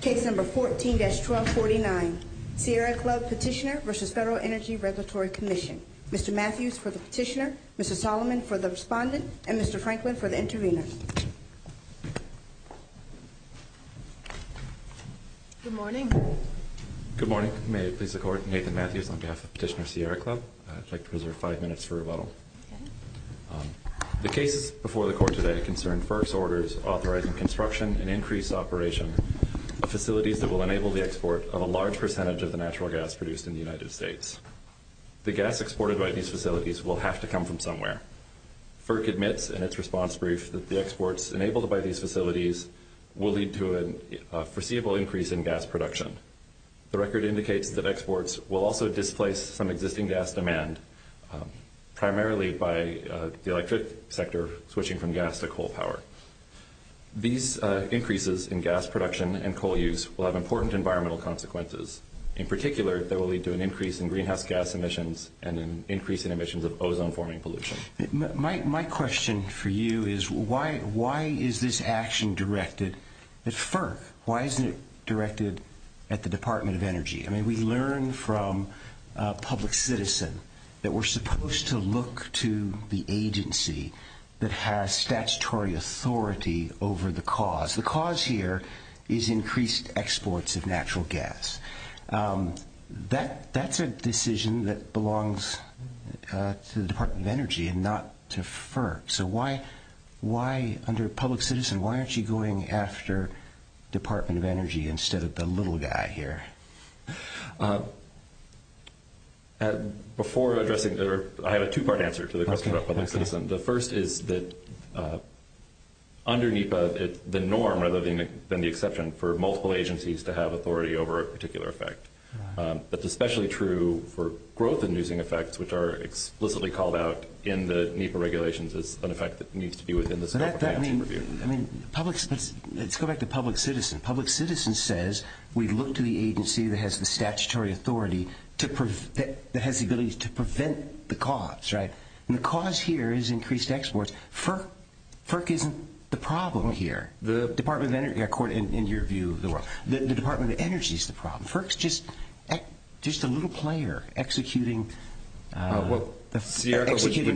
Case number 14-1249, Sierra Club Petitioner v. Federal Energy Regulatory Commission. Mr. Matthews for the Petitioner, Mr. Solomon for the Respondent, and Mr. Franklin for the Intervener. Good morning. Good morning. May I please record Nathan Matthews on behalf of Petitioner Sierra Club. I'd like to reserve five minutes for rebuttal. The case before the Court today concerned FERC's orders authorizing construction and increased operation of facilities that will enable the export of a large percentage of the natural gas produced in the United States. The gas exported by these facilities will have to come from somewhere. FERC admits in its response brief that the exports enabled by these facilities will lead to a foreseeable increase in gas production. The record indicates that exports will also displace some existing gas demand primarily by the electric sector switching from gas to coal power. These increases in gas production and coal use will have important environmental consequences. In particular, they will lead to an increase in greenhouse gas emissions and an increase in emissions of ozone-forming pollution. My question for you is why is this action directed at FERC? Why isn't it directed at the Department of Energy? I mean, we learned from a public citizen that we're supposed to look to the agency that has statutory authority over the cause. The cause here is increased exports of natural gas. That's a decision that belongs to the Department of Energy and not to FERC. So why under a public citizen, why aren't you going after Department of Energy instead of the little guy here? Before addressing that, I have a two-part answer to the question about public citizen. The first is that under NEPA, the norm rather than the exception for multiple agencies to have authority over a particular effect. That's especially true for growth-inducing effects which are explicitly called out in the NEPA regulations as an effect that needs to be within the scope of the action review. Let's go back to public citizen. Public citizen says we look to the agency that has the statutory authority that has the ability to prevent the cause. The cause here is increased exports. FERC isn't the problem here. The Department of Energy, according to your view, the Department of Energy is the problem. FERC is just a little player executing the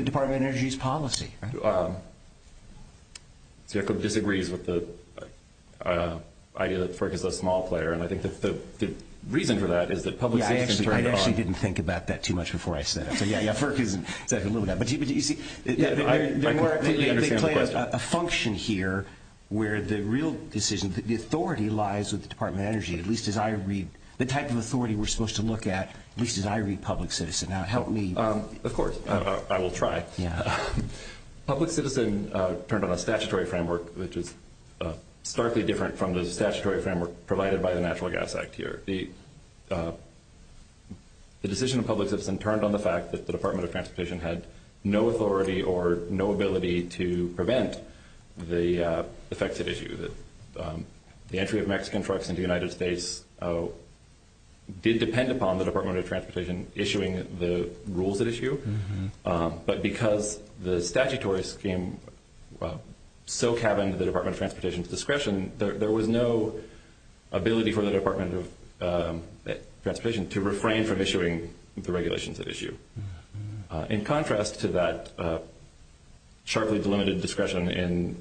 Department of Energy's policy. I disagree with the idea that FERC is a small player. I think the reason for that is that public citizen is right on. I actually didn't think about that too much before I said it. FERC is a little guy. But you see, they play a function here where the real decision, the authority lies with the Department of Energy, at least as I read – the type of authority we're supposed to look at, at least as I read public citizen. Help me. Of course. I will try. Public citizen turned on a statutory framework, which is starkly different from the statutory framework provided by the Natural Gas Act here. The decision of public citizen turned on the fact that the Department of Transportation had no authority or no ability to prevent the effective issue. The entry of Mexican trucks into the United States did depend upon the Department of Transportation issuing the rules at issue. But because the statutory scheme still cabins the Department of Transportation's discretion, there was no ability for the Department of Transportation to refrain from issuing the regulations at issue. In contrast to that sharply delimited discretion in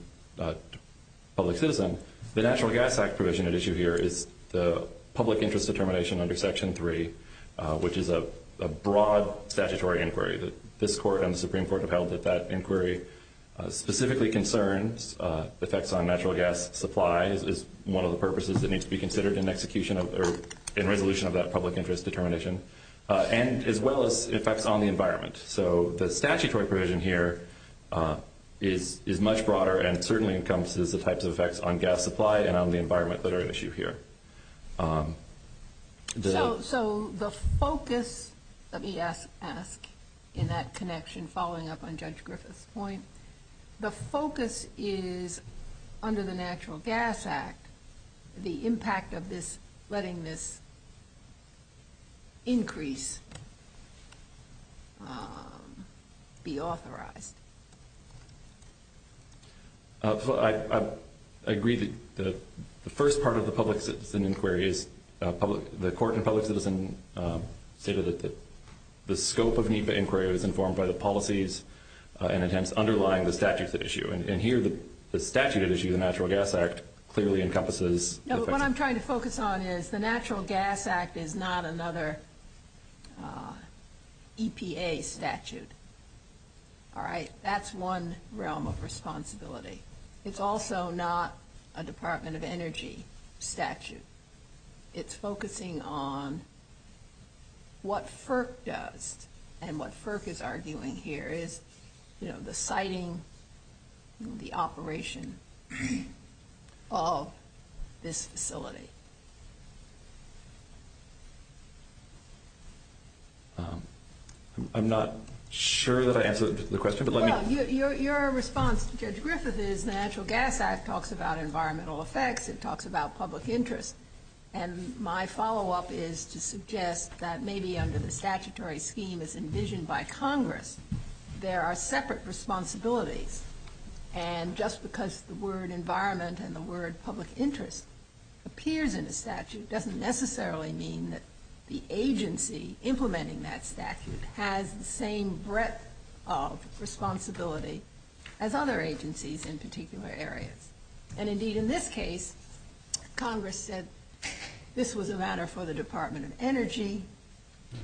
public citizen, the Natural Gas Act provision at issue here is the public interest determination under Section 3, which is a broad statutory inquiry. This court and the Supreme Court have held that that inquiry specifically concerns effects on natural gas supply. It's one of the purposes that needs to be considered in execution or in resolution of that public interest determination, and as well as effects on the environment. So the statutory provision here is much broader and certainly encompasses the types of effects on gas supply and on the environment that are at issue here. So the focus of the EF Act in that connection following up on Judge Griffith's point, the focus is under the Natural Gas Act, the impact of letting this increase be authorized. I agree that the first part of the public citizen inquiry is the court and public citizen stated that the scope of NEPA inquiry was informed by the policies and attempts underlying the statutes at issue, and here the statute at issue, the Natural Gas Act, clearly encompasses... No, what I'm trying to focus on is the Natural Gas Act is not another EPA statute. All right, that's one realm of responsibility. It's also not a Department of Energy statute. It's focusing on what FERC does, and what FERC is arguing here is the siting and the operation of this facility. I'm not sure that I answered the question, but let me... Your response to Judge Griffith is the Natural Gas Act talks about environmental effects. It talks about public interest, and my follow-up is to suggest that maybe under the statutory scheme as envisioned by Congress, there are separate responsibilities, and just because the word environment and the word public interest appears in the statute doesn't necessarily mean that the agency implementing that statute has the same breadth of responsibility as other agencies in particular areas. Indeed, in this case, Congress said this was a matter for the Department of Energy,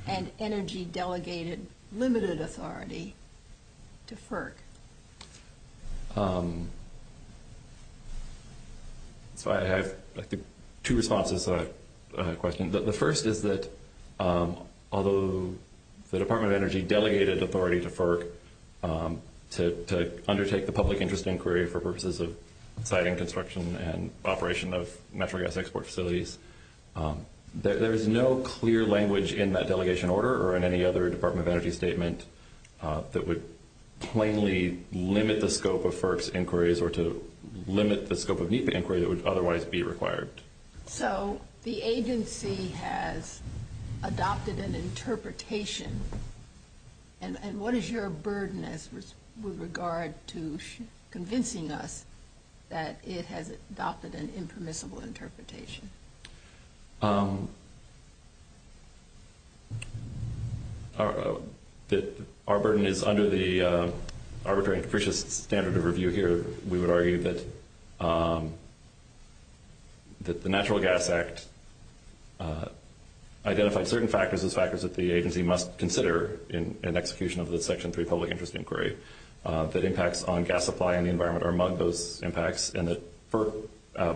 and Energy delegated limited authority to FERC. I have two responses to that question. The first is that although the Department of Energy delegated authority to FERC to undertake the public interest inquiry for purposes of siting, construction, and operation of natural gas export facilities, there is no clear language in that delegation order or in any other Department of Energy statement that would plainly limit the scope of FERC's inquiries or to limit the scope of NEPA inquiry that would otherwise be required. So the agency has adopted an interpretation, and what is your burden with regard to convincing us that it has adopted an impermissible interpretation? Our burden is under the arbitrary and capricious standard of review here. We would argue that the Natural Gas Act identifies certain factors as factors that the agency must consider in execution of the Section 3 public interest inquiry, that impacts on gas supply and the environment are among those impacts, and that FERC,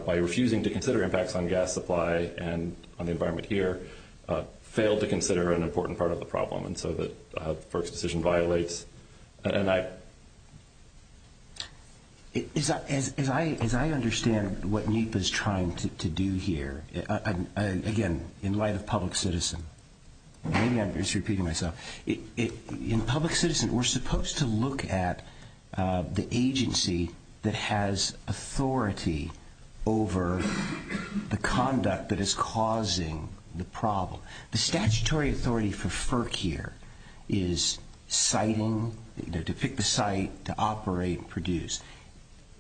by refusing to consider impacts on gas supply and on the environment here, failed to consider an important part of the problem, and so that FERC's decision violates. As I understand what NEPA is trying to do here, and again, in light of public citizen, maybe I'm just repeating myself, in public citizen, we're supposed to look at the agency that has authority over the conduct that is causing the problem. The statutory authority for FERC here is siting, to pick the site, to operate, and produce,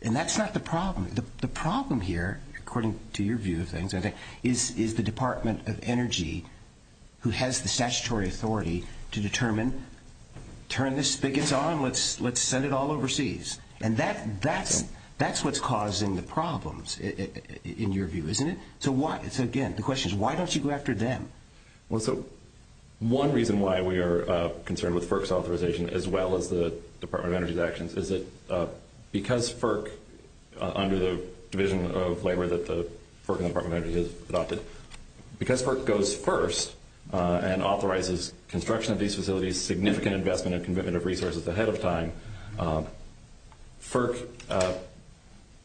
and that's not the problem. The problem here, according to your view of things, I think, is the Department of Energy, who has the statutory authority to determine, turn this thing on, let's send it all overseas. And that's what's causing the problems, in your view, isn't it? So again, the question is, why don't you go after them? One reason why we are concerned with FERC's authorization, as well as the Department of Energy's actions, is that because FERC, under the division of labor that FERC and the Department of Energy has adopted, because FERC goes first and authorizes construction of these facilities, significant investment and commitment of resources ahead of time, FERC,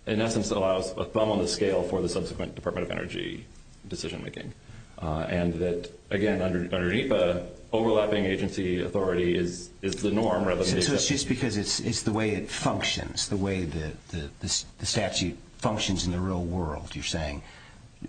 in essence, allows a thumb on the scale for the subsequent Department of Energy decision-making. And that, again, under NEPA, overlapping agency authority is the norm rather than the exception. So it's just because it's the way it functions, the way the statute functions in the real world, you're saying.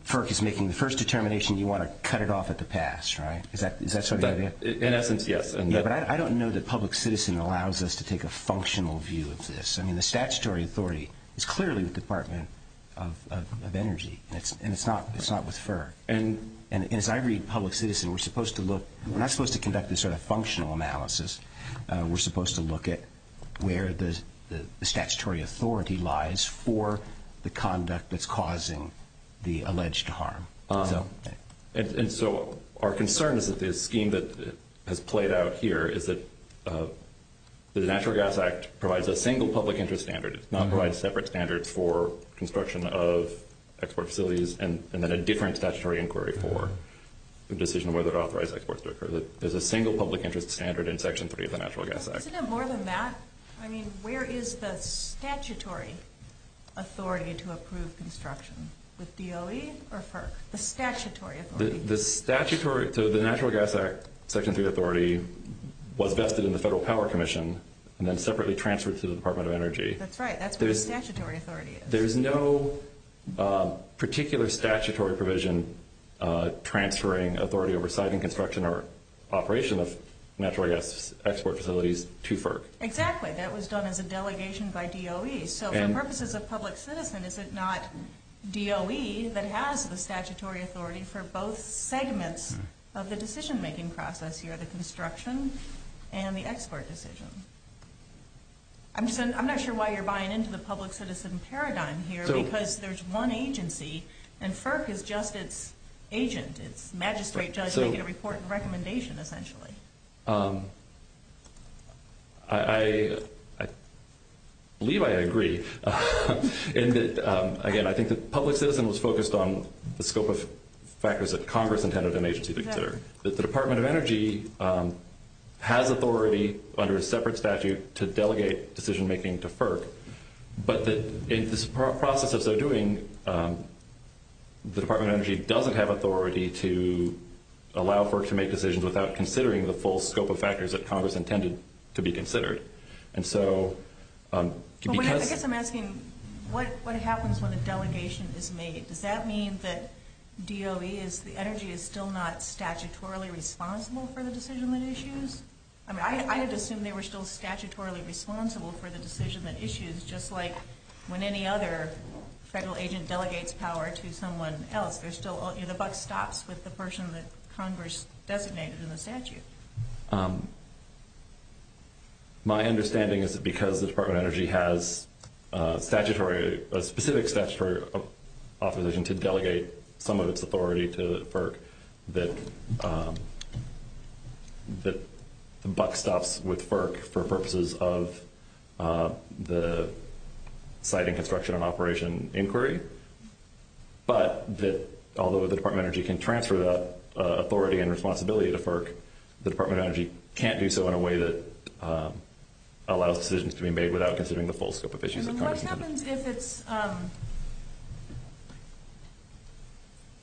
FERC is making the first determination you want to cut it off at the pass, right? Is that sort of it? In essence, yes. But I don't know that public citizen allows us to take a functional view of this. I mean, the statutory authority is clearly the Department of Energy, and it's not with FERC. And as I read public citizen, we're not supposed to conduct this sort of functional analysis. We're supposed to look at where the statutory authority lies for the conduct that's causing the alleged harm. And so our concern is that the scheme that is played out here is that the Natural Gas Act provides a single public interest standard. It does not provide separate standards for construction of export facilities and then a different statutory inquiry for the decision whether to authorize exports to occur. There's a single public interest standard in Section 3 of the Natural Gas Act. Isn't it more than that? I mean, where is the statutory authority to approve construction? With DOE or FERC? The statutory authority. The statutory – so the Natural Gas Act Section 3 authority was vested in the Federal Power Commission and then separately transferred to the Department of Energy. That's right. That's what the statutory authority is. There's no particular statutory provision transferring authority over site and construction or operation of natural gas export facilities to FERC. Exactly. That was done as a delegation by DOE. So for purposes of public citizen, is it not DOE that has the statutory authority for both segments of the decision-making process here, the construction and the export decision? I'm not sure why you're buying into the public citizen paradigm here because there's one agency and FERC is just its agent, its magistrate judge making a report and recommendation, essentially. I believe I agree. Again, I think the public citizen was focused on the scope of factors that Congress intended an agency to consider. The Department of Energy has authority under a separate statute to delegate decision-making to FERC, but in this process of so doing, the Department of Energy doesn't have authority to allow FERC to make decisions without considering the full scope of factors that Congress intended to be considered. I guess I'm asking what happens when a delegation is made? Does that mean that DOE is – the energy is still not statutorily responsible for the decision-making issues? I mean, I would assume they were still statutorily responsible for the decision-making issues just like when any other federal agent delegates power to someone else. There's still – the buck stops with the person that Congress designated in the statute. My understanding is that because the Department of Energy has statutory – a specific statutory opposition to delegate some of its authority to FERC, that the buck stops with FERC for purposes of the site and construction and operation inquiry, but that although the Department of Energy can transfer the authority and responsibility to FERC, the Department of Energy can't do so in a way that allows decisions to be made without considering the full scope of issues that Congress intended. What happens if it's –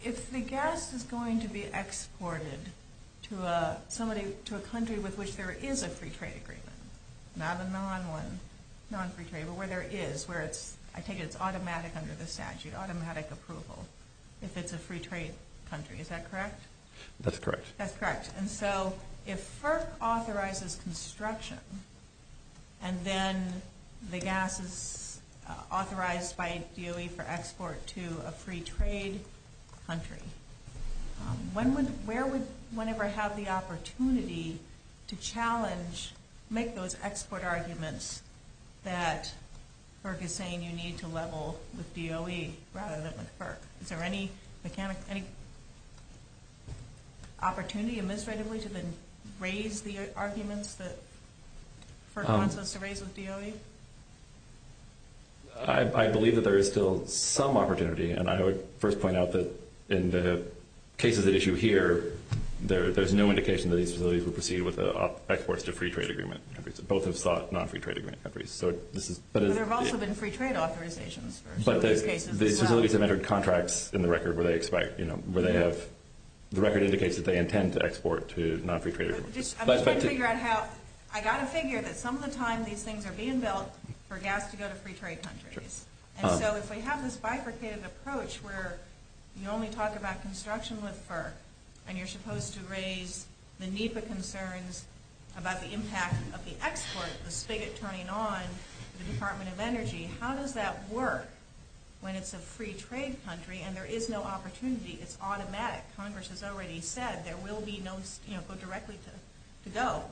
if the gas is going to be exported to a country with which there is a free trade agreement, not a non-free trade, but where there is, where it's – I take it it's automatic under the statute, automatic approval, if it's a free trade country. Is that correct? That's correct. That's correct. And so if FERC authorizes construction and then the gas is authorized by DOE for export to a free trade country, when would – where would one ever have the opportunity to challenge, make those export arguments that FERC is saying you need to level with DOE rather than with FERC? Is there any opportunity administratively to then raise the arguments that FERC wants us to raise with DOE? I believe that there is still some opportunity, and I would first point out that in the cases at issue here, there's no indication that these facilities would proceed with exports to free trade agreement countries, both in slot, non-free trade agreement countries. But there have also been free trade authorizations. But the facilities have entered contracts in the record where they expect – where they have – the record indicates that they intend to export to non-free trade countries. I've got to figure out how – I've got to figure that some of the time these things are being built for gas to go to free trade countries. And so if we have this bifurcated approach where you only talk about construction with FERC and you're supposed to raise the NEPA concerns about the impact of the exports, the spigot turning on the Department of Energy, how does that work when it's a free trade country and there is no opportunity? It's automatic. Congress has already said there will be no – you know, go directly to DOE,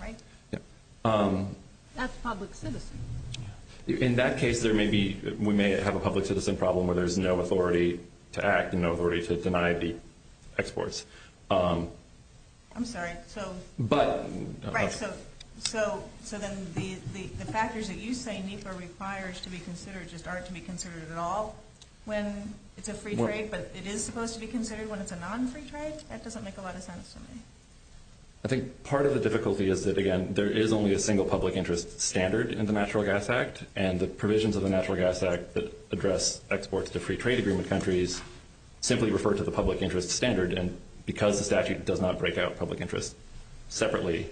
right? That's public citizen. In that case, there may be – we may have a public citizen problem where there's no authority to act and no authority to deny the exports. I'm sorry. So – But – Right. So then the factors that you say NEPA requires to be considered just aren't to be considered at all when it's a free trade, but it is supposed to be considered when it's a non-free trade? That doesn't make a lot of sense to me. I think part of the difficulty is that, again, there is only a single public interest standard in the Natural Gas Act. And the provisions of the Natural Gas Act that address exports to free trade agreement countries simply refer to the public interest standard. And because the statute does not break out public interest separately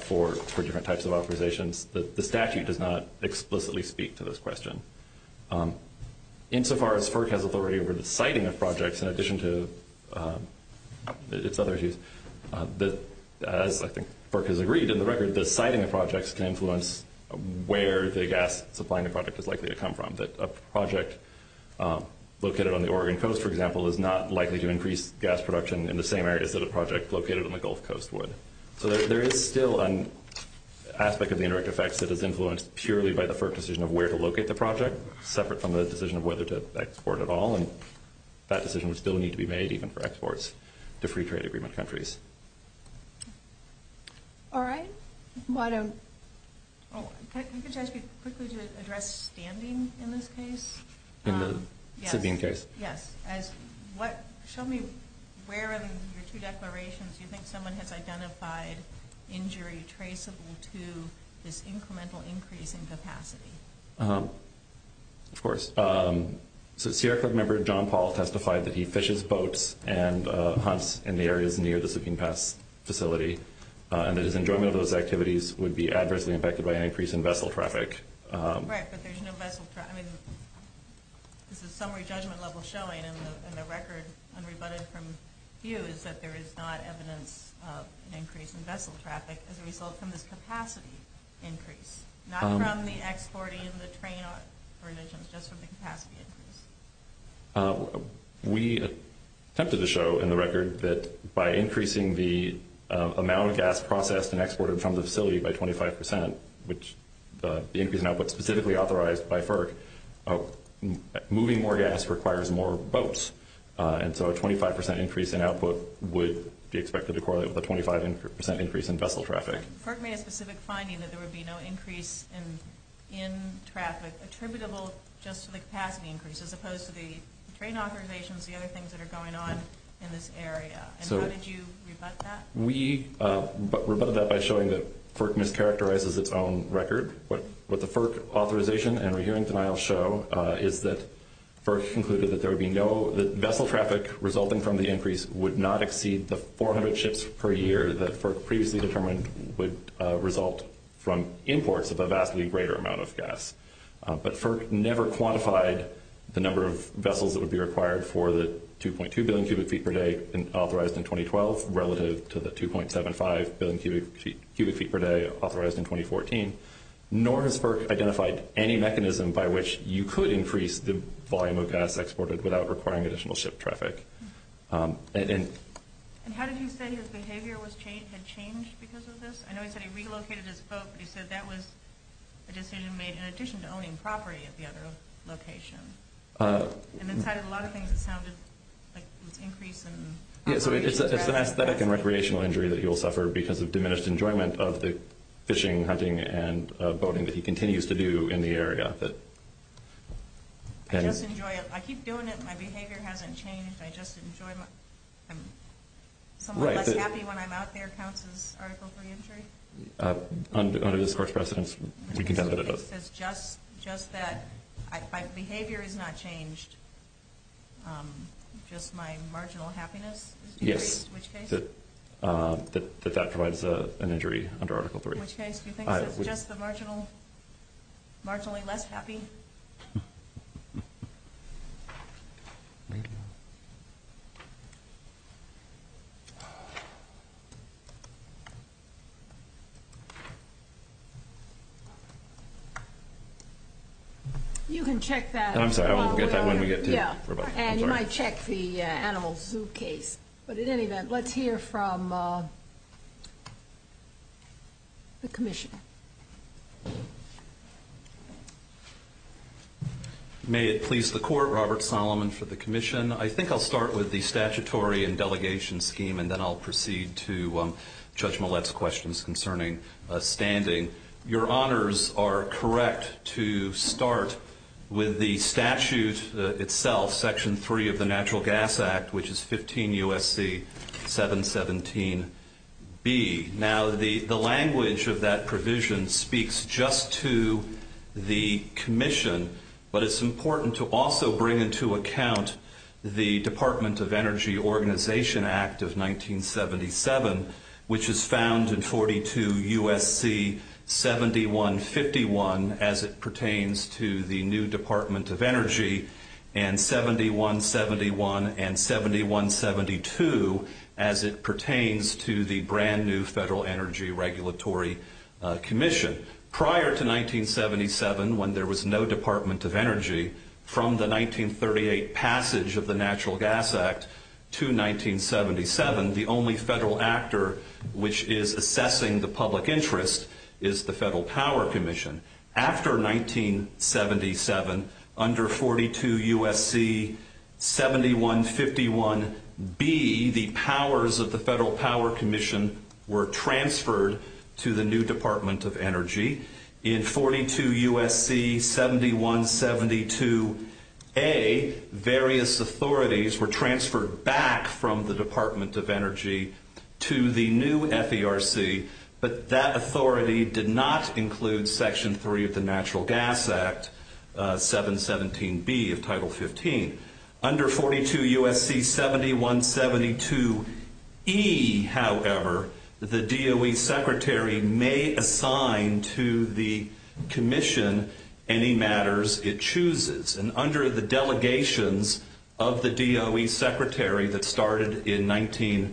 for different types of authorizations, the statute does not explicitly speak to this question. Insofar as FERC has authority over the siting of projects in addition to its other issues, I think FERC has agreed in the record that the siting of projects can influence where the gas supply in the project is likely to come from, that a project located on the Oregon coast, for example, is not likely to increase gas production in the same areas that a project located on the Gulf Coast would. So there is still an aspect of the indirect effects that is influenced purely by the FERC decision of where to locate the project separate from the decision of whether to export at all. And that decision would still need to be made even for exports to free trade agreement countries. All right. Can you just quickly address standing in this case? In the sitting case? Yes. Show me where in your two declarations you think someone has identified injury traceable to this incremental increase in capacity. Of course. CRC member John Paul testified that he fishes boats and hunts in the areas near the sinking pass facility and that his enjoyment of those activities would be adversely affected by an increase in vessel traffic. Right, but there's no vessel traffic. There's a summary judgment level showing in the record, unrebutted from view, is that there is not evidence of an increase in vessel traffic as a result of the capacity increase, not from the exporting of the train operations, just from the capacity increase. We attempted to show in the record that by increasing the amount of gas processed and exported from the facility by 25 percent, which the increase in output specifically authorized by FERC, moving more gas requires more boats. And so a 25 percent increase in output would be expected to correlate with a 25 percent increase in vessel traffic. FERC made a specific finding that there would be no increase in traffic, attributable just to the capacity increase, as opposed to the train authorizations, the other things that are going on in this area. And how did you rebut that? We rebutted that by showing that FERC mischaracterizes its own record. What the FERC authorization and we're hearing denial show is that FERC concluded that there would be no, that vessel traffic resulting from the increase would not exceed the 400 ships per year that FERC previously determined would result from imports of a vastly greater amount of gas. But FERC never quantified the number of vessels that would be required for the 2.2 billion cubic feet per day authorized in 2012 relative to the 2.75 billion cubic feet per day authorized in 2014, nor has FERC identified any mechanism by which you could increase the volume of gas exported without requiring additional ship traffic. And how did you say his behavior had changed because of this? I know he said he relocated his boat, but he said that was a decision made in addition to owning property at the other location. And it had a lot of things that sounded like an increase in traffic. Yeah, so it's an aesthetic and recreational injury that he will suffer because of diminished enjoyment of the fishing, hunting, and boating that he continues to do in the area. I just enjoy it. I keep doing it. My behavior hasn't changed. I just enjoy it. Someone like Kathy when I'm out there counts as Article III injury? Under this course of precedence, we condemn it as of. Just that my behavior has not changed, just my marginal happiness? Yes. In which case? That that provides an injury under Article III. In which case? Do you think it's just the marginal less happy? You can check that. I'm sorry. I won't get that when we get to it. Yeah, and you might check the animal zoo case. But in any event, let's hear from the Commissioner. May it please the Court, Robert Solomon for the Commission. I think I'll start with the statutory and delegation scheme and then I'll proceed to Judge Millett's questions concerning standing. Your honors are correct to start with the statute itself, Section III of the Natural Gas Act, which is 15 U.S.C. 717B. Now, the language of that provision speaks just to the Commission, but it's important to also bring into account the Department of Energy Organization Act of 1977, which is found in 42 U.S.C. 7151, as it pertains to the new Department of Energy, and 7171 and 7172, as it pertains to the brand new Federal Energy Regulatory Commission. Prior to 1977, when there was no Department of Energy, from the 1938 passage of the Natural Gas Act to 1977, the only federal actor which is assessing the public interest is the After 1977, under 42 U.S.C. 7151B, the powers of the Federal Power Commission were transferred to the new Department of Energy. In 42 U.S.C. 7172A, various authorities were transferred back from the Department of Energy to the new FERC, but that authority did not include Section 3 of the Natural Gas Act, 717B of Title 15. Under 42 U.S.C. 7172E, however, the DOE Secretary may assign to the Commission any matters it chooses, and under the delegations of the DOE Secretary that the FERC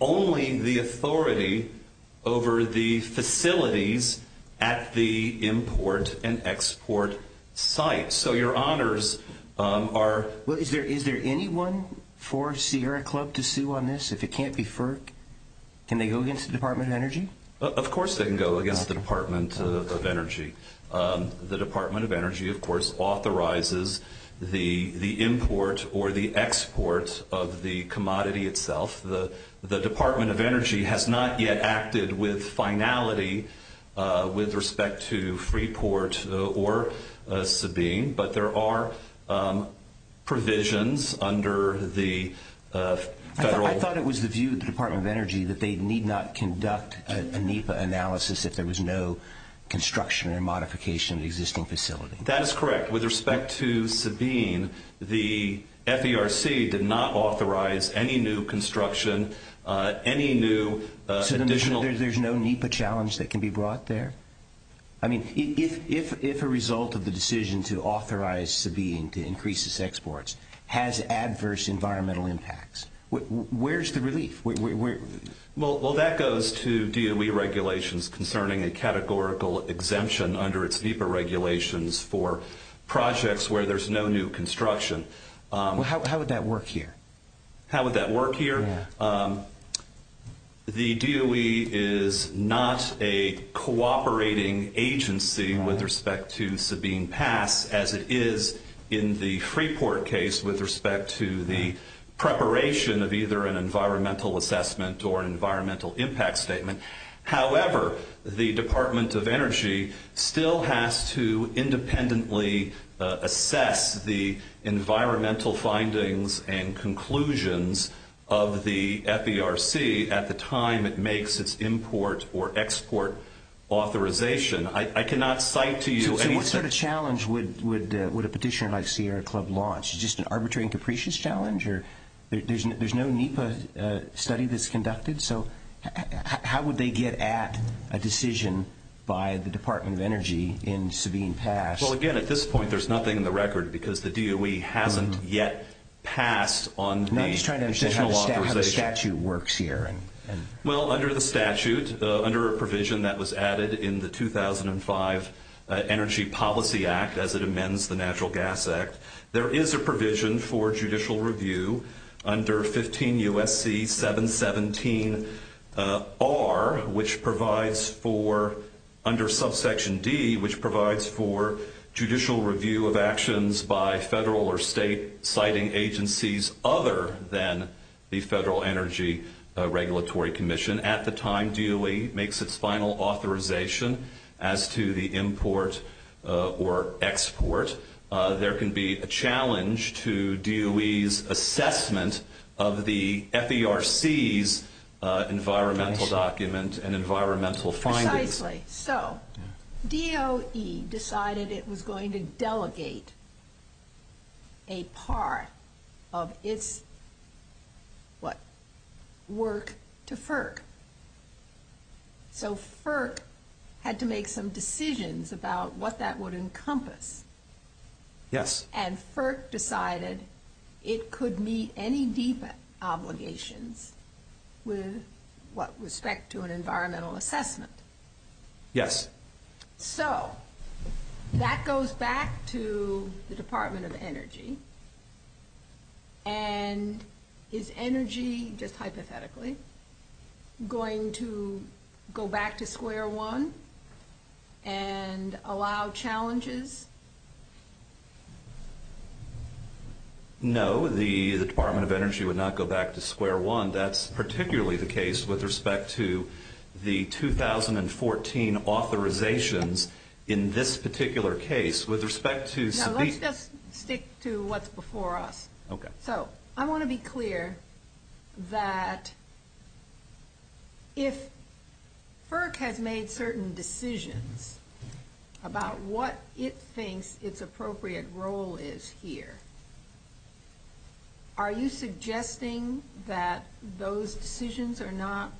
only the authority over the facilities at the import and export sites. So your honors are... Is there anyone for Sierra Club to sue on this if it can't be FERC? Can they go against the Department of Energy? Of course they can go against the Department of Energy. The Department of Energy, of course, authorizes the import or the exports of the commodity itself. The Department of Energy has not yet acted with finality with respect to Freeport or Sabine, but there are provisions under the federal... I thought it was the view of the Department of Energy that they need not conduct a NEPA analysis if there was no construction or modification of the existing facility. That is correct. With respect to Sabine, the FERC did not authorize any new construction, any new additional... So there's no NEPA challenge that can be brought there? I mean, if a result of the decision to authorize Sabine to increase its exports has adverse environmental impacts, where's the relief? Well, that goes to DOE regulations concerning a categorical exemption under its NEPA regulations for projects where there's no new construction. How would that work here? How would that work here? The DOE is not a cooperating agency with respect to Sabine Pass as it is in the environmental assessment or environmental impact statement. However, the Department of Energy still has to independently assess the environmental findings and conclusions of the FERC at the time it makes its import or export authorization. I cannot cite to you any... So what sort of challenge would a petitioner like Sierra Club launch? Just an arbitrary and capricious challenge? Or there's no NEPA study that's conducted? So how would they get at a decision by the Department of Energy in Sabine Pass? Well, again, at this point, there's nothing in the record because the DOE hasn't yet passed on... No, he's trying to understand how the statute works here. Well, under the statute, under a provision that was added in the 2005 Energy Policy Act as it amends the Natural Gas Act, there is a provision for judicial review under 15 U.S.C. 717R which provides for, under subsection D, which provides for judicial review of actions by federal or state citing agencies other than the Federal Energy Regulatory Commission. Even at the time DOE makes its final authorization as to the import or export, there can be a challenge to DOE's assessment of the FERC's environmental document and environmental findings. So DOE decided it was going to delegate a part of its work to FERC. So FERC had to make some decisions about what that would encompass. And FERC decided it could meet any NEPA obligations with respect to an environmental assessment. Yes. So that goes back to the Department of Energy. And is energy, just hypothetically, going to go back to square one and allow challenges? No. The Department of Energy would not go back to square one. That's particularly the case with respect to the 2014 authorizations in this particular case. With respect to... No, let's just stick to what's before us. Okay. So I want to be clear that if FERC has made certain decisions about what it thinks its appropriate role is here, are you suggesting that those decisions are not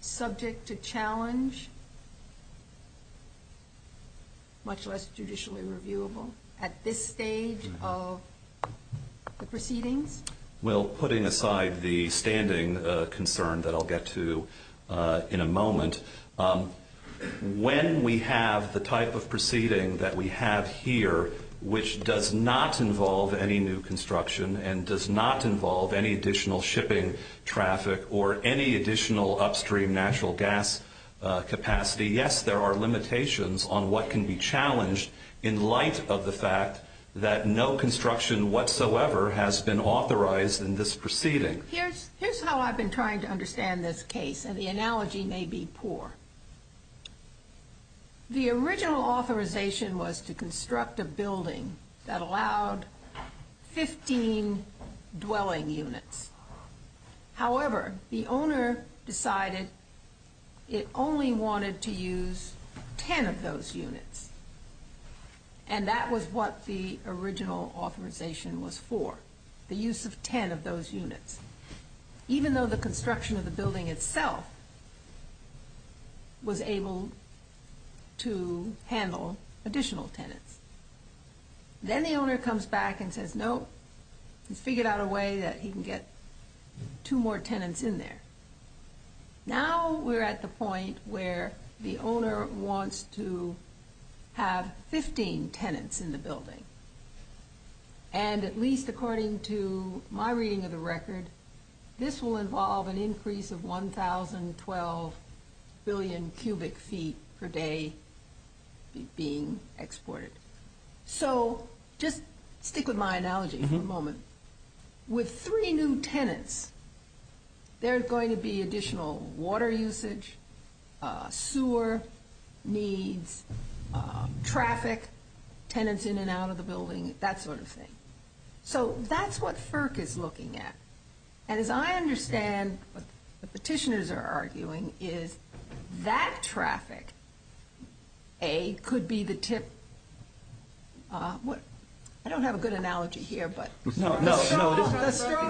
subject to challenge, much less judicially reviewable at this stage of the proceeding? Well, putting aside the standing concern that I'll get to in a moment, when we have the type of proceeding that we have here, which does not involve any new construction and does not involve any additional shipping traffic or any additional upstream natural gas capacity, yes, there are limitations on what can be challenged in light of the fact that no construction whatsoever has been authorized in this proceeding. Here's how I've been trying to understand this case, and the analogy may be poor. The original authorization was to construct a building that allowed 15 dwelling units. However, the owner decided it only wanted to use 10 of those units, and that was what the original authorization was for, the use of 10 of those units, even though the construction of the building itself was able to handle additional tenants. Then the owner comes back and says, no, we figured out a way that he can get two more tenants in there. Now we're at the point where the owner wants to have 15 tenants in the building, and at least according to my reading of the record, this will involve an increase of 1,012 billion cubic feet per day being exported. So just stick with my analogy for a moment. With three new tenants, there's going to be additional water usage, sewer needs, traffic, tenants in and out of the building, that sort of thing. So that's what FERC is looking at, and as I understand what the petitioners are arguing, is that traffic, A, could be the tip. I don't have a good analogy here, but the straw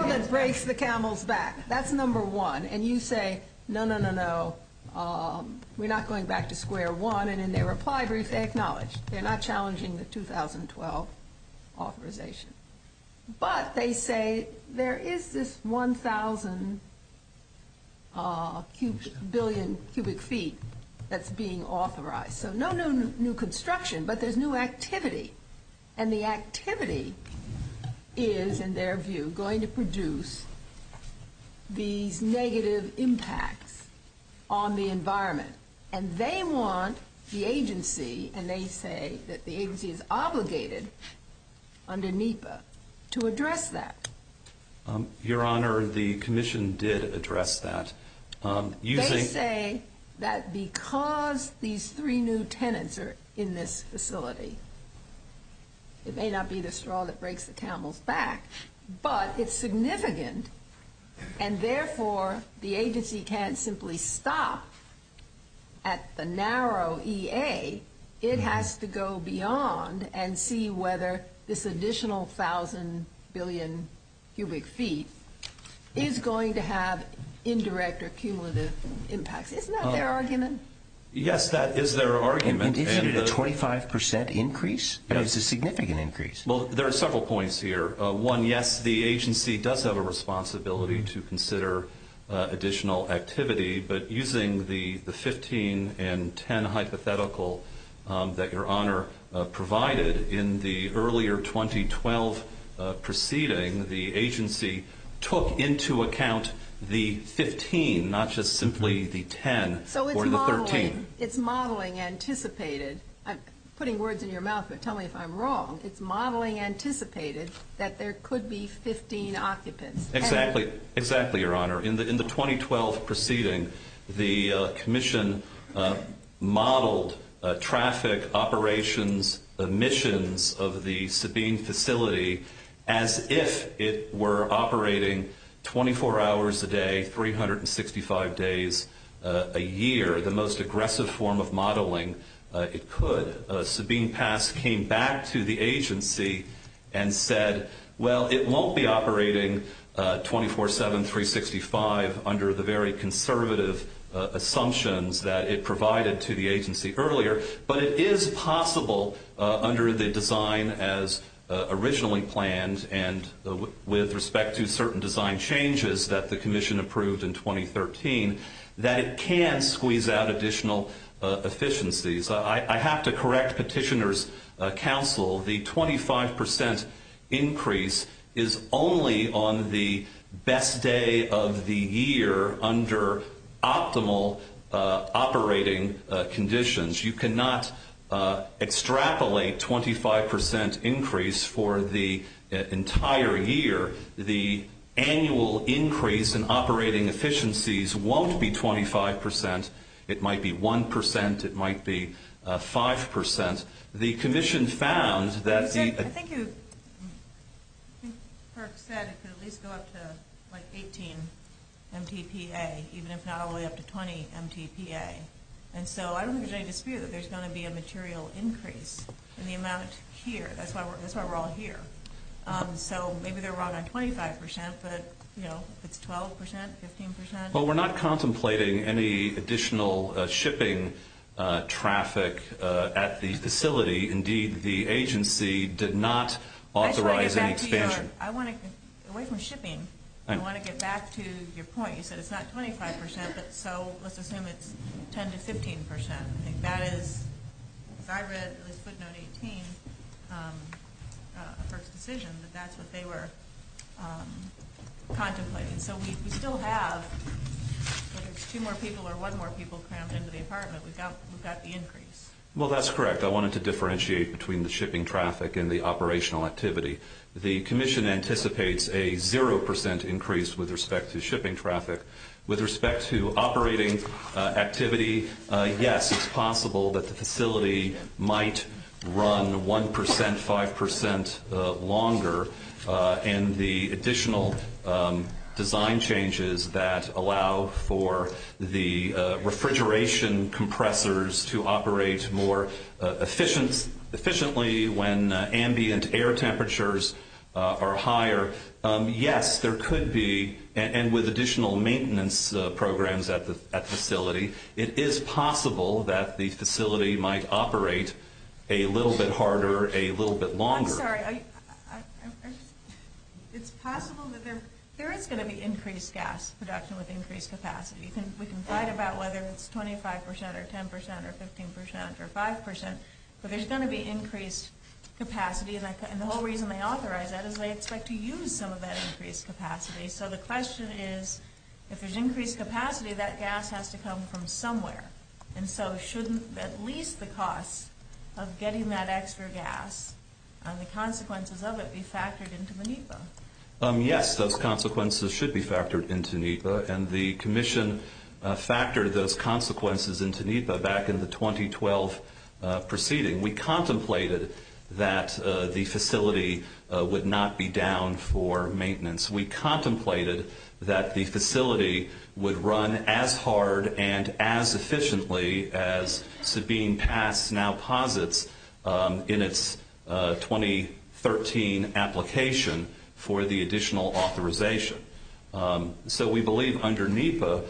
that breaks the camel's back. That's number one, and you say, no, no, no, no, we're not going back to square one, they acknowledge, they're not challenging the 2012 authorization, but they say there is this 1,000 billion cubic feet that's being authorized. So no new construction, but there's new activity, and the activity is, in their view, going to produce these negative impacts on the environment, and they want the agency, and they say that the agency is obligated under NEPA to address that. Your Honor, the commission did address that. They say that because these three new tenants are in this facility, it may not be the straw that breaks the camel's back, but it's significant, and therefore, the agency can't simply stop at the narrow EA. It has to go beyond and see whether this additional 1,000 billion cubic feet is going to have indirect or cumulative impact. Isn't that their argument? Yes, that is their argument. Isn't it a 25% increase? It's a significant increase. Well, there are several points here. One, yes, the agency does have a responsibility to consider additional activity, but using the 15 and 10 hypothetical that Your Honor provided in the earlier 2012 proceeding, the agency took into account the 15, not just simply the 10 or the 13. So it's modeling anticipated. I'm putting words in your mouth, but tell me if I'm wrong. It's modeling anticipated that there could be 15 occupants. Exactly, Your Honor. In the 2012 proceeding, the commission modeled traffic operations, the missions of the Sabine facility as if it were operating 24 hours a day, 365 days a year, the most aggressive form of modeling it could. Sabine Pass came back to the agency and said, well, it won't be operating 24-7, 365, under the very conservative assumptions that it provided to the agency earlier, but it is possible under the design as originally planned and with respect to certain design changes that the commission approved in 2013, that it can squeeze out additional efficiencies. I have to correct Petitioner's Counsel. The 25% increase is only on the best day of the year under optimal operating conditions. You cannot extrapolate 25% increase for the entire year. The annual increase in operating efficiencies won't be 25%. It might be 1%. It might be 5%. The commission found that the- I think you first said it could at least go up to like 18 MTPA, even if not all the way up to 20 MTPA. And so I don't think they dispute that there's going to be a material increase in the amount here. That's why we're all here. So maybe they're wrong on 25%, but, you know, 12%, 15%. Well, we're not contemplating any additional shipping traffic at the facility. Indeed, the agency did not authorize any expansion. Away from shipping, I want to get back to your point. You said it's not 25%, but so let's assume it's 10% to 15%. That is, as far as I know, 18 for Petitioner, but that's what they were contemplating. So we still have two more people or one more people cramped into the apartment. Would that be increased? Well, that's correct. I wanted to differentiate between the shipping traffic and the operational activity. The commission anticipates a 0% increase with respect to shipping traffic. With respect to operating activity, yes, it's possible that the facility might run 1%, 5% longer, and the additional design changes that allow for the refrigeration compressors to operate more efficiently when ambient air temperatures are higher. Yes, there could be, and with additional maintenance programs at the facility, it is possible that the facility might operate a little bit harder, a little bit longer. I'm sorry. It's possible that there is going to be increased gas production with increased capacity. We can talk about whether it's 25% or 10% or 15% or 5%, but there's going to be increased capacity, and the whole reason they authorize that is they expect to use some of that increased capacity. So the question is, if there's increased capacity, that gas has to come from somewhere, and so shouldn't at least the cost of getting that extra gas and the consequences of it be factored into NEPA? Yes, those consequences should be factored into NEPA, and the commission factored those consequences into NEPA back in the 2012 proceeding. We contemplated that the facility would not be down for maintenance. We contemplated that the facility would run as hard and as efficiently as Sabine Past now posits in its 2013 application for the additional authorization. So we believe under NEPA,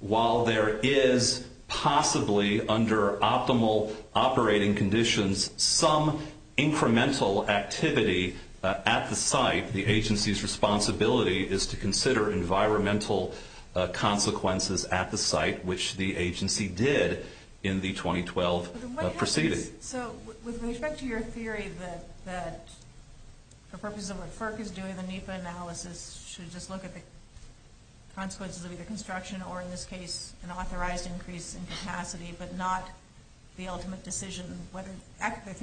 while there is possibly, under optimal operating conditions, some incremental activity at the site, the agency's responsibility is to consider environmental consequences at the site, which the agency did in the 2012 proceeding. So with respect to your theory that the purpose of what FERC is doing, the NEPA analysis, should just look at the consequences of the construction, or in this case, an authorized increase in capacity, but not the ultimate decision whether extra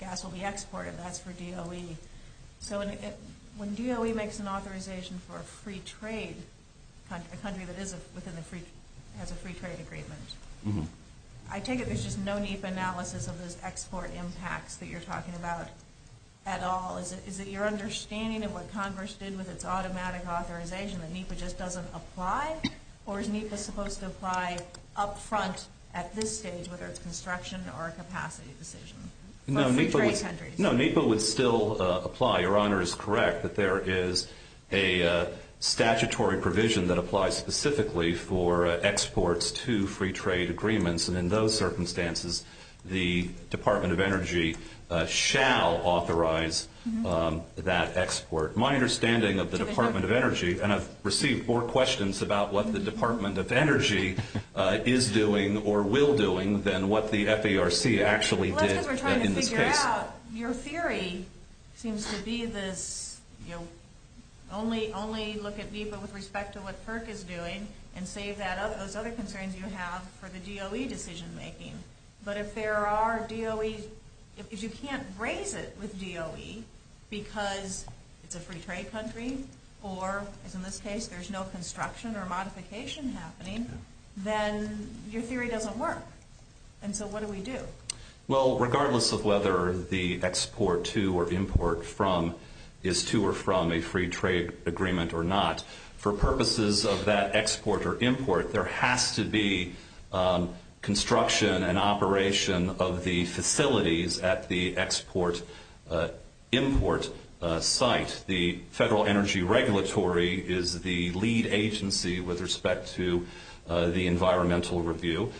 gas will be exported, that's for DOE. So when DOE makes an authorization for a free trade country, a country that has a free trade agreement, I take it there's just no NEPA analysis of the export impact that you're talking about at all. Is it your understanding of what Congress did with its automatic authorization, that NEPA just doesn't apply, or is NEPA supposed to apply up front at this stage, whether it's construction or capacity decisions? No, NEPA would still apply. Your Honor is correct that there is a statutory provision that applies specifically for exports to free trade agreements, and in those circumstances, the Department of Energy shall authorize that export. My understanding of the Department of Energy, and I've received four questions about what the Department of Energy is doing or will doing than what the FERC actually did in this case. Your theory seems to be this only look at VIVA with respect to what FERC is doing and save those other concerns you have for the DOE decision making. But if there are DOEs, if you can't raise it with DOE because it's a free trade country or, as in this case, there's no construction or modification happening, then your theory doesn't work. And so what do we do? Well, regardless of whether the export to or import from is to or from a free trade agreement or not, for purposes of that export or import, there has to be construction and operation of the facilities at the export import site, and the Federal Energy Regulatory is the lead agency with respect to the environmental review.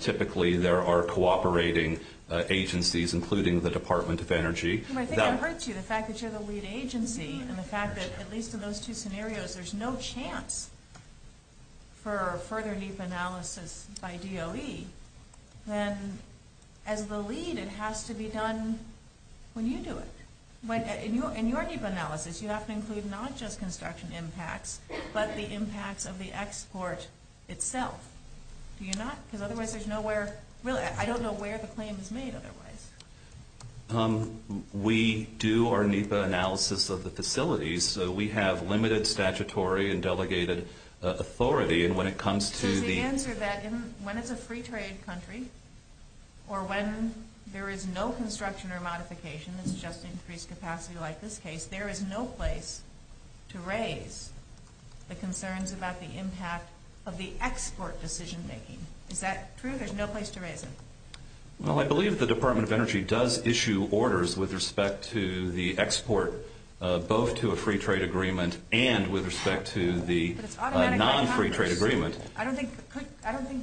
Typically there are cooperating agencies, including the Department of Energy. I think I heard you, the fact that you're the lead agency and the fact that at least in those two scenarios there's no chance for further deep analysis by DOE, then as the lead it has to be done when you do it. In your NEPA analysis you have to include not just construction impacts, but the impacts of the export itself. Do you not? Because otherwise there's nowhere, really, I don't know where the claim is made otherwise. We do our NEPA analysis of the facilities. So we have limited statutory and delegated authority, and when it comes to the- The answer to that, when it's a free trade country or when there is no construction or modification, it's just increased capacity like this case, there is no place to raise the concerns about the impact of the export decision-making. Is that true? There's no place to raise it. Well, I believe the Department of Energy does issue orders with respect to the export, both to a free trade agreement and with respect to the non-free trade agreement. I don't think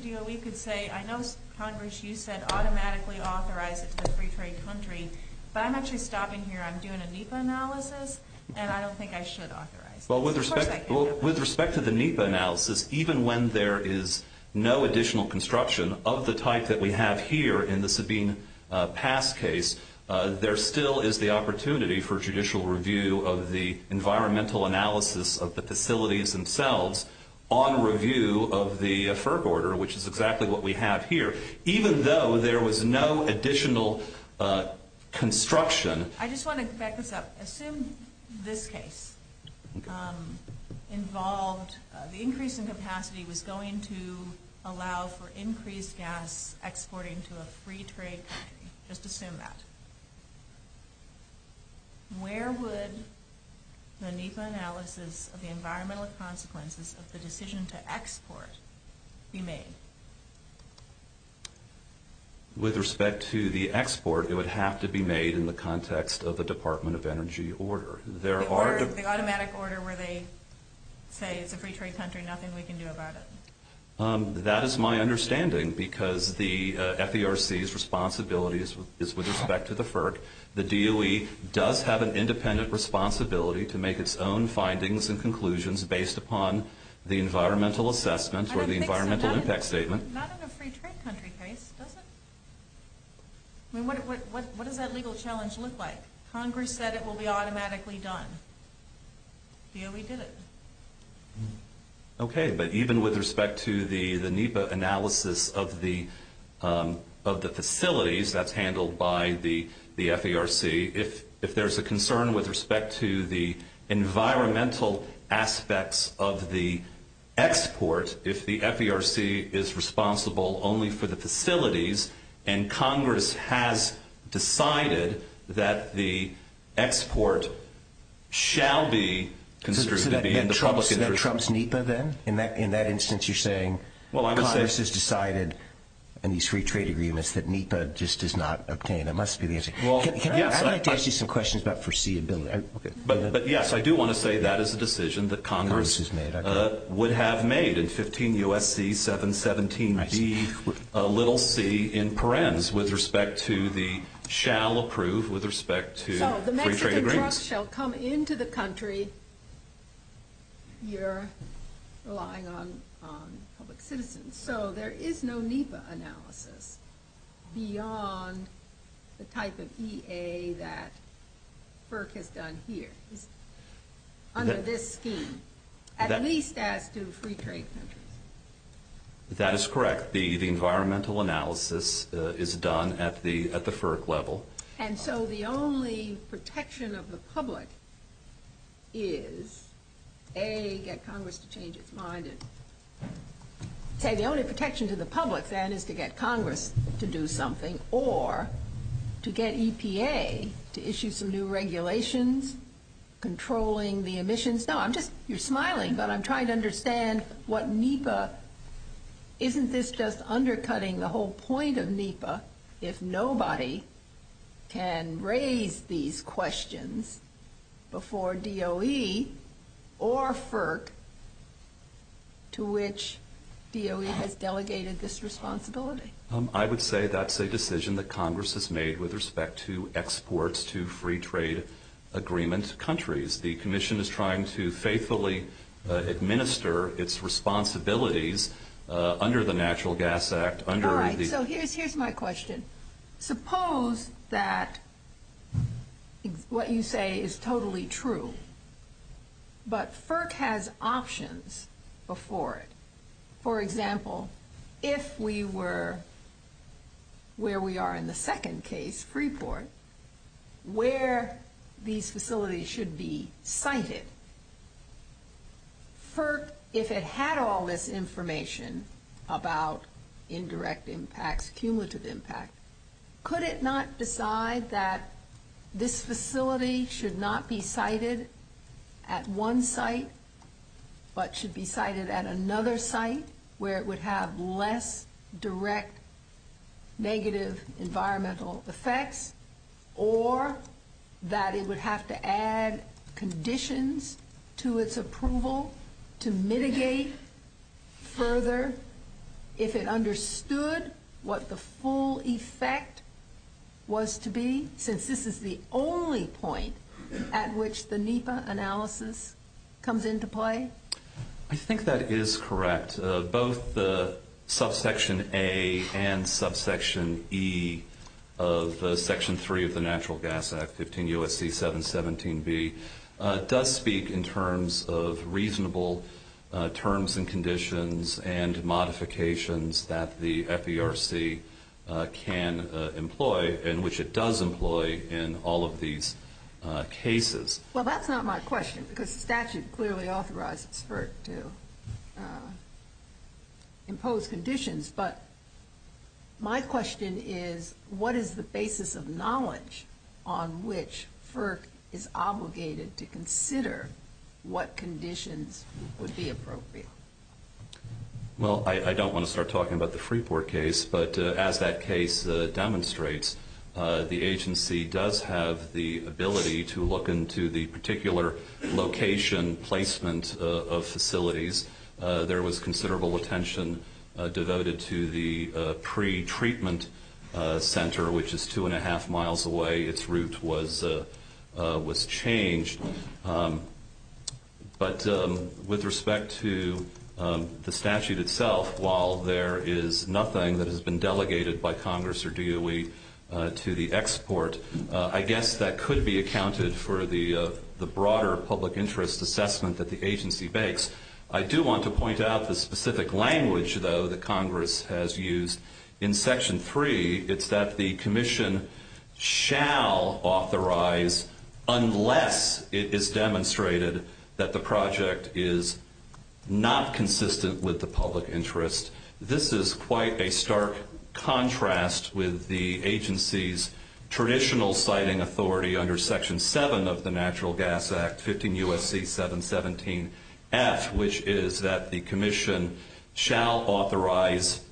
DOE could say, I know, Congress, you said automatically authorize it to the free trade country, but I'm actually stopping here. I'm doing a NEPA analysis, and I don't think I should authorize it. Well, with respect to the NEPA analysis, even when there is no additional construction of the type that we have here in the Sabine Pass case, there still is the opportunity for judicial review of the environmental analysis of the facilities themselves on review of the FERC order, which is exactly what we have here. Even though there was no additional construction. I just want to back this up. Assume this case involved the increase in capacity was going to allow for increased gas exporting to a free trade country. Just assume that. Where would the NEPA analysis of the environmental consequences of the decision to export be made? With respect to the export, it would have to be made in the context of the Department of Energy order. The automatic order where they say it's a free trade country, nothing we can do about it. That is my understanding, because the FERC's responsibility is with respect to the FERC. The DOE does have an independent responsibility to make its own findings and conclusions based upon the environmental assessment or the environmental impact statement. Not in a free trade country case, does it? What does that legal challenge look like? Congress said it will be automatically done. Here we did it. Even with respect to the NEPA analysis of the facilities that's handled by the FERC, if there's a concern with respect to the environmental aspects of the export, if the FERC is responsible only for the facilities and Congress has decided that the export shall be Does that mean Trump's NEPA, then? In that instance, you're saying Congress has decided in these free trade agreements that NEPA just is not obtained. That must be the answer. I'd like to ask you some questions about foreseeability. But, yes, I do want to say that is a decision that Congress would have made in 15 U.S.C. 717dc with respect to the shall approve with respect to free trade agreements. This shall come into the country. You're relying on public citizens. So there is no NEPA analysis beyond the type of EA that FERC has done here under this scheme, at least as to the free trade countries. That is correct. The environmental analysis is done at the FERC level. And so the only protection of the public is, A, get Congress to change its mind. The only protection to the public, then, is to get Congress to do something or to get EPA to issue some new regulations controlling the emissions. You're smiling, but I'm trying to understand what NEPA Isn't this just undercutting the whole point of NEPA if nobody can raise these questions before DOE or FERC to which DOE has delegated this responsibility? I would say that's a decision that Congress has made with respect to exports to free trade agreements countries. The Commission is trying to faithfully administer its responsibilities under the Natural Gas Act. Here's my question. Suppose that what you say is totally true, but FERC has options before it. For example, if we were where we are in the second case, Freeport, where these facilities should be cited. FERC, if it had all this information about indirect impacts, cumulative impacts, could it not decide that this facility should not be cited at one site but should be cited at another site where it would have less direct negative environmental effects, or that it would have to add conditions to its approval to mitigate further if it understood what the full effect was to be, since this is the only point at which the NEPA analysis comes into play? I think that is correct. Both the Subsection A and Subsection E of Section 3 of the Natural Gas Act, 15 U.S.C. 717B, does speak in terms of reasonable terms and conditions and modifications that the FERC can employ and which it does employ in all of these cases. Well, that is not my question, because statute clearly authorizes FERC to impose conditions, but my question is, what is the basis of knowledge on which FERC is obligated to consider what conditions would be appropriate? Well, I don't want to start talking about the Freeport case, but as that case demonstrates, the agency does have the ability to look into the particular location placement of facilities. There was considerable attention devoted to the pre-treatment center, which is two and a half miles away. Its route was changed. But with respect to the statute itself, while there is nothing that has been delegated by Congress or DOE to the export, I guess that could be accounted for the broader public interest assessment that the agency makes. I do want to point out the specific language, though, that Congress has used in Section 3. It's that the commission shall authorize unless it is demonstrated that the project is not consistent with the public interest. This is quite a stark contrast with the agency's traditional citing authority under Section 7 of the Natural Gas Act, 15 U.S.C. 717F, which is that the commission shall authorize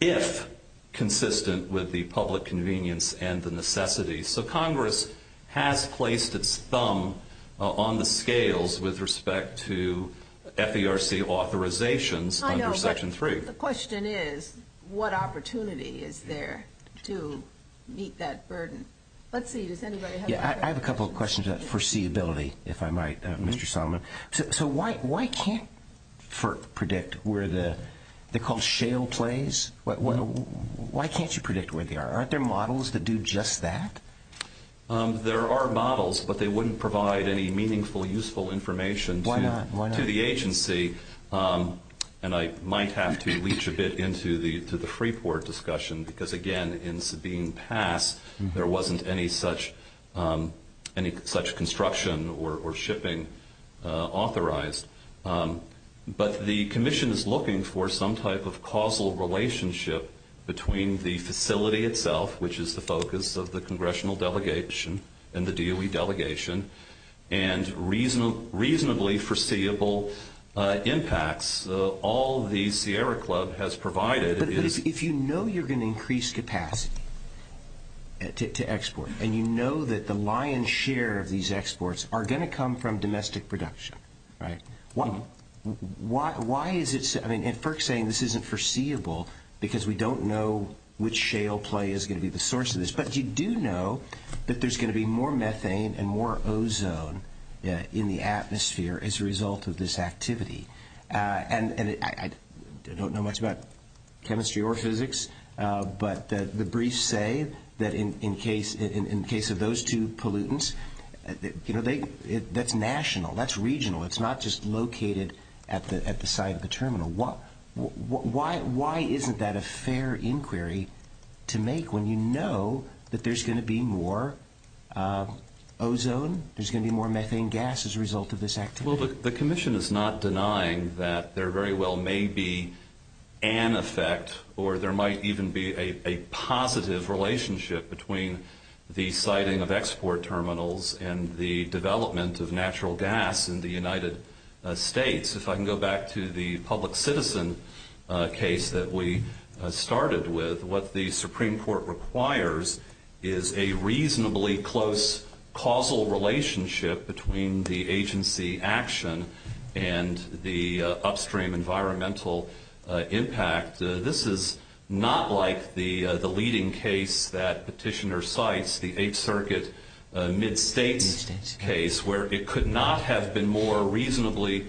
if consistent with the public convenience and the necessity. So Congress has placed its thumb on the scales with respect to FERC authorizations under Section 3. The question is, what opportunity is there to meet that burden? I have a couple of questions about foreseeability, if I might, Mr. Solomon. So why can't FERC predict where the – they're called shale plays. Why can't you predict where they are? Aren't there models that do just that? There are models, but they wouldn't provide any meaningful, useful information to the agency, and I might have to leech a bit into the Freeport discussion because, again, in Sabine Pass, there wasn't any such construction or shipping authorized. But the commission is looking for some type of causal relationship between the facility itself, which is the focus of the congressional delegation and the DOE delegation, and reasonably foreseeable impacts. So all the Sierra Club has provided is – But if you know you're going to increase capacity to export, and you know that the lion's share of these exports are going to come from domestic production, right, why is it – I mean, and FERC's saying this isn't foreseeable because we don't know which shale play is going to be the source of this. But you do know that there's going to be more methane and more ozone in the atmosphere as a result of this activity. And I don't know much about chemistry or physics, but the briefs say that in case of those two pollutants, you know, that's national. That's regional. It's not just located at the site of the terminal. Why isn't that a fair inquiry to make when you know that there's going to be more ozone, there's going to be more methane gas as a result of this activity? Well, the commission is not denying that there very well may be an effect, or there might even be a positive relationship between the siting of export terminals and the development of natural gas in the United States. If I can go back to the public citizen case that we started with, what the Supreme Court requires is a reasonably close causal relationship between the agency action and the upstream environmental impact. This is not like the leading case that Petitioner cites, the Eighth Circuit mid-savings case, where it could not have been more reasonably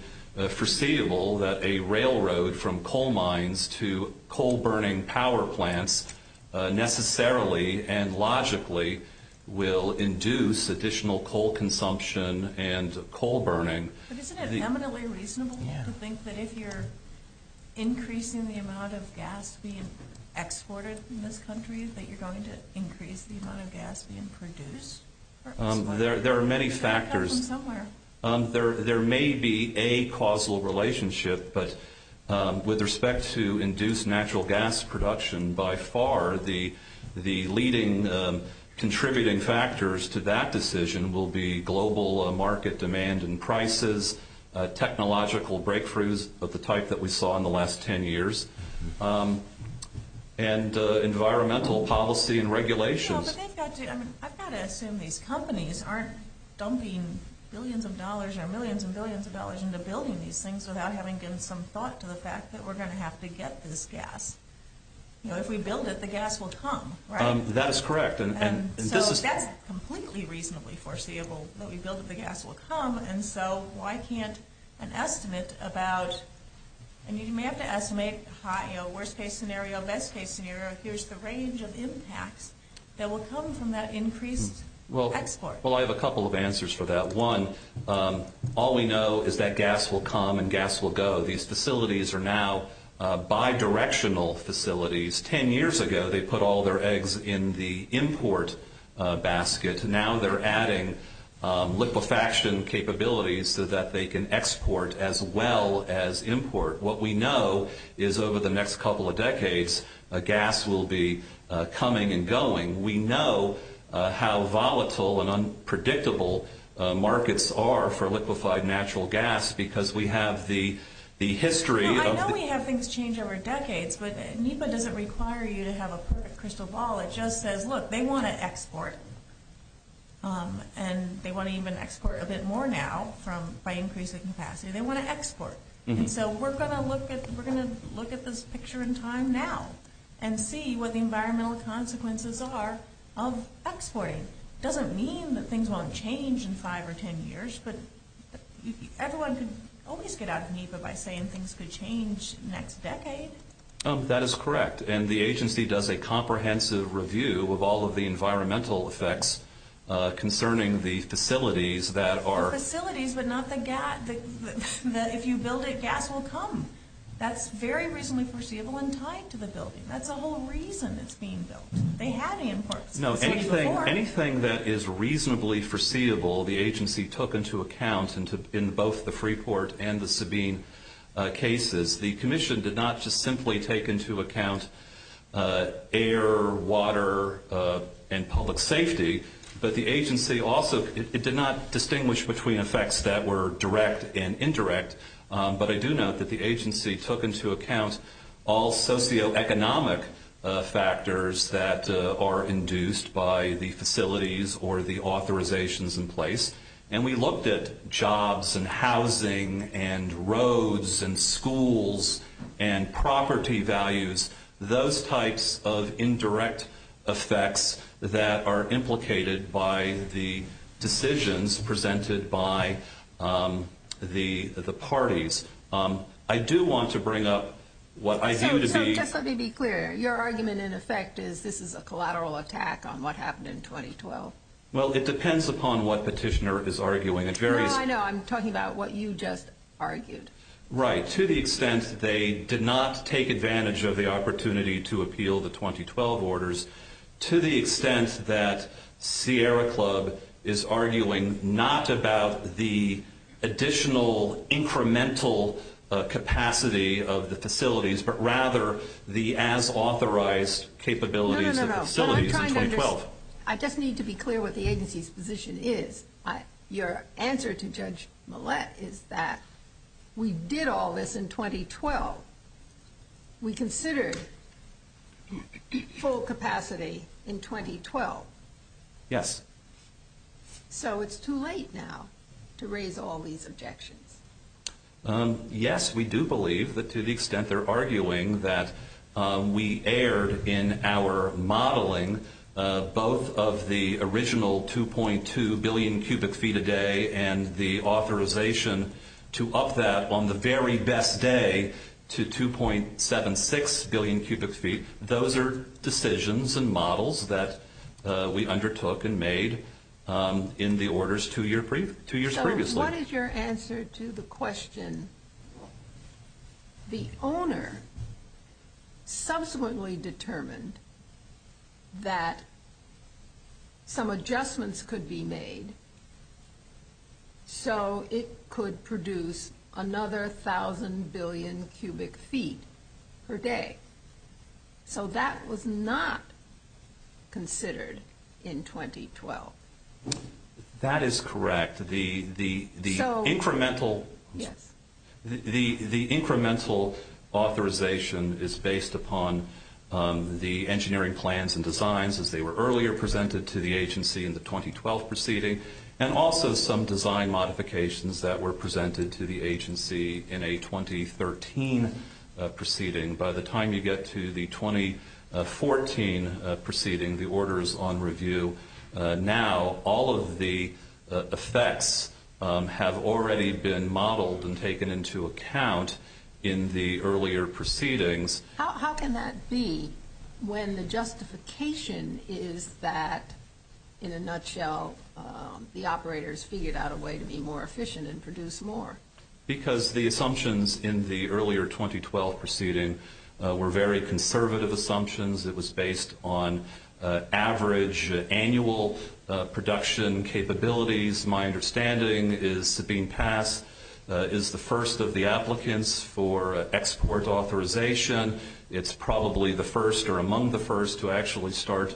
foreseeable that a railroad from coal mines to coal-burning power plants necessarily and logically will induce additional coal consumption and coal burning. But isn't it eminently reasonable to think that if you're increasing the amount of gas being exported in this country, that you're going to increase the amount of gas being produced? There are many factors. There may be a causal relationship, but with respect to induced natural gas production, by far the leading contributing factors to that decision will be global market demand and prices, technological breakthroughs of the type that we saw in the last 10 years, and environmental policy and regulations. I've got to assume these companies aren't dumping billions of dollars or millions and billions of dollars into building these things without having given some thought to the fact that we're going to have to get this gas. If we build it, the gas will come. That's correct. That's completely reasonably foreseeable, that we build it, the gas will come, and so why can't an estimate about... Well, I have a couple of answers for that. One, all we know is that gas will come and gas will go. These facilities are now bidirectional facilities. Ten years ago, they put all their eggs in the import basket. Now they're adding liquefaction capabilities so that they can export as well as import. What we know is over the next couple of decades, gas will be coming and going. We know how volatile and unpredictable markets are for liquefied natural gas because we have the history of... I know we have things change over decades, but NEPA doesn't require you to have a perfect crystal ball. It just says, look, they want to export, and they want to even export a bit more now by increasing capacity. They want to export, and so we're going to look at this picture in time now and see what the environmental consequences are of exporting. It doesn't mean that things won't change in five or ten years, but everyone can always get out of NEPA by saying things could change next decade. That is correct, and the agency does a comprehensive review of all of the environmental effects concerning the facilities that are... The facilities, but not the gas, that if you build it, gas will come. That's very reasonably foreseeable in time to the building. That's the whole reason it's being built. They have the import. No, anything that is reasonably foreseeable, the agency took into account in both the Freeport and the Sabine cases. The commission did not just simply take into account air, water, and public safety, but the agency also did not distinguish between effects that were direct and indirect, but I do note that the agency took into account all socioeconomic factors that are induced by the facilities or the authorizations in place, and we looked at jobs and housing and roads and schools and property values, those types of indirect effects that are implicated by the decisions presented by the parties. I do want to bring up what I view to be... Let me be clear. Your argument, in effect, is this is a collateral attack on what happened in 2012. Well, it depends upon what petitioner is arguing. No, I know. I'm talking about what you just argued. Right. To the extent they did not take advantage of the opportunity to appeal the 2012 orders, to the extent that Sierra Club is arguing not about the additional incremental capacity of the facilities, but rather the as-authorized capabilities of the facilities in 2012. No, no, no. I just need to be clear what the agency's position is. Your answer to Judge Millett is that we did all this in 2012. We considered full capacity in 2012. Yes. So it's too late now to raise all these objections. Yes, we do believe that to the extent they're arguing that we aired in our modeling both of the original 2.2 billion cubic feet a day and the authorization to up that on the very best day to 2.76 billion cubic feet, those are decisions and models that we undertook and made in the orders two years previously. What is your answer to the question, the owner subsequently determined that some adjustments could be made so it could produce another 1,000 billion cubic feet per day. So that was not considered in 2012. That is correct. The incremental authorization is based upon the engineering plans and designs as they were earlier presented to the agency in the 2012 proceeding and also some design modifications that were presented to the agency in a 2013 proceeding. By the time you get to the 2014 proceeding, the order is on review. Now all of the effects have already been modeled and taken into account in the earlier proceedings. How can that be when the justification is that, in a nutshell, the operators figured out a way to be more efficient and produce more? Because the assumptions in the earlier 2012 proceeding were very conservative assumptions. It was based on average annual production capabilities. My understanding is that being passed is the first of the applicants for export authorization. It's probably the first or among the first to actually start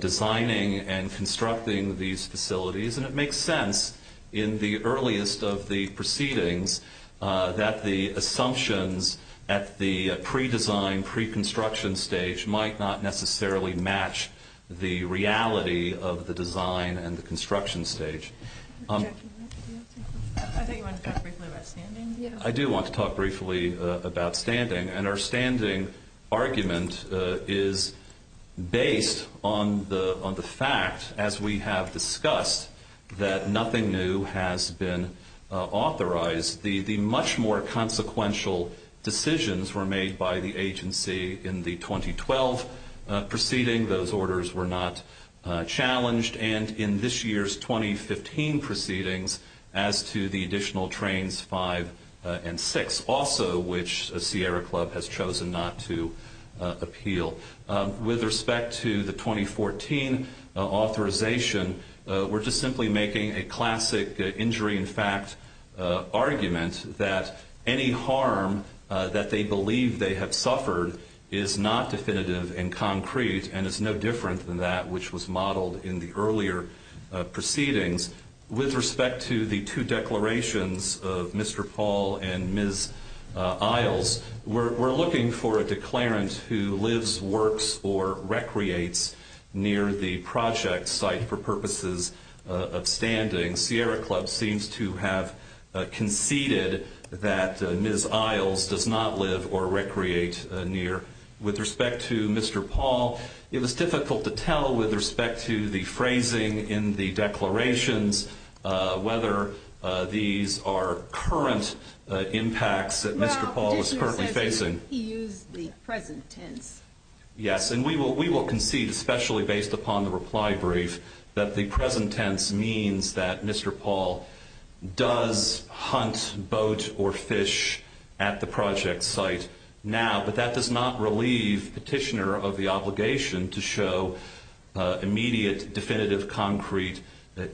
designing and constructing these facilities. And it makes sense in the earliest of the proceedings that the assumptions at the pre-design, pre-construction stage might not necessarily match the reality of the design and the construction stage. I do want to talk briefly about standing. And our standing argument is based on the fact, as we have discussed, that nothing new has been authorized. The much more consequential decisions were made by the agency in the 2012 proceeding. Those orders were not challenged. And in this year's 2015 proceedings, as to the additional trains 5 and 6, also which Sierra Club has chosen not to appeal. With respect to the 2014 authorization, we're just simply making a classic injury in fact argument that any harm that they believe they have suffered is not definitive and concrete and is no different than that which was modeled in the earlier proceedings. With respect to the two declarations of Mr. Paul and Ms. Isles, we're looking for a declarant who lives, works, or recreates near the project site for purposes of standing. Sierra Club seems to have conceded that Ms. Isles does not live or recreate near. With respect to Mr. Paul, it was difficult to tell with respect to the phrasing in the declarations whether these are current impacts that Mr. Paul was currently facing. He used the present tense. Yes, and we will concede, especially based upon the reply brief, that the present tense means that Mr. Paul does hunt boat or fish at the project site now, but that does not relieve the petitioner of the obligation to show immediate definitive concrete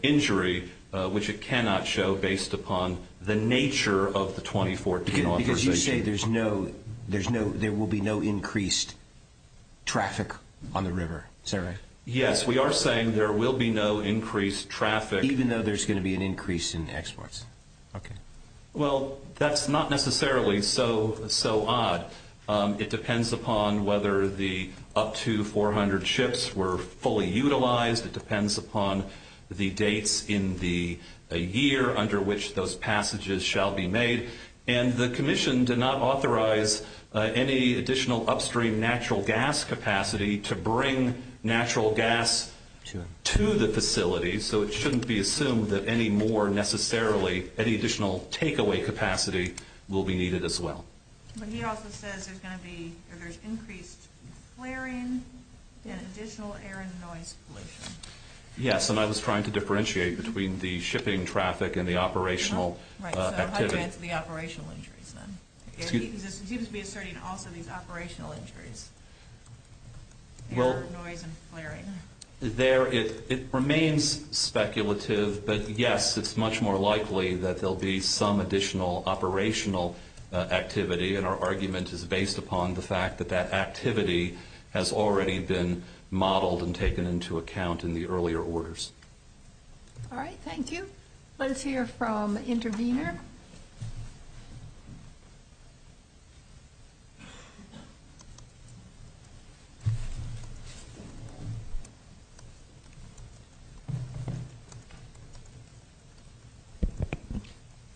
injury, which it cannot show based upon the nature of the 2014 authorization. Because you say there will be no increased traffic on the river, is that right? Yes, we are saying there will be no increased traffic. Even though there's going to be an increase in exports, okay. Well, that's not necessarily so odd. It depends upon whether the up to 400 ships were fully utilized. It depends upon the dates in the year under which those passages shall be made. And the commission did not authorize any additional upstream natural gas capacity to bring natural gas to the facility, so it shouldn't be assumed that any more necessarily, any additional takeaway capacity will be needed as well. But he also said there's going to be increased flaring and additional air and noise pollution. Yes, and I was trying to differentiate between the shipping traffic and the operational activity. Right, so I'd like to answer the operational injuries then. He seems to be asserting also the operational injuries. Air, noise, and flaring. It remains speculative, but, yes, it's much more likely that there will be some additional operational activity, and our argument is based upon the fact that that activity has already been modeled and taken into account in the earlier orders. All right, thank you. Let's hear from the intervener.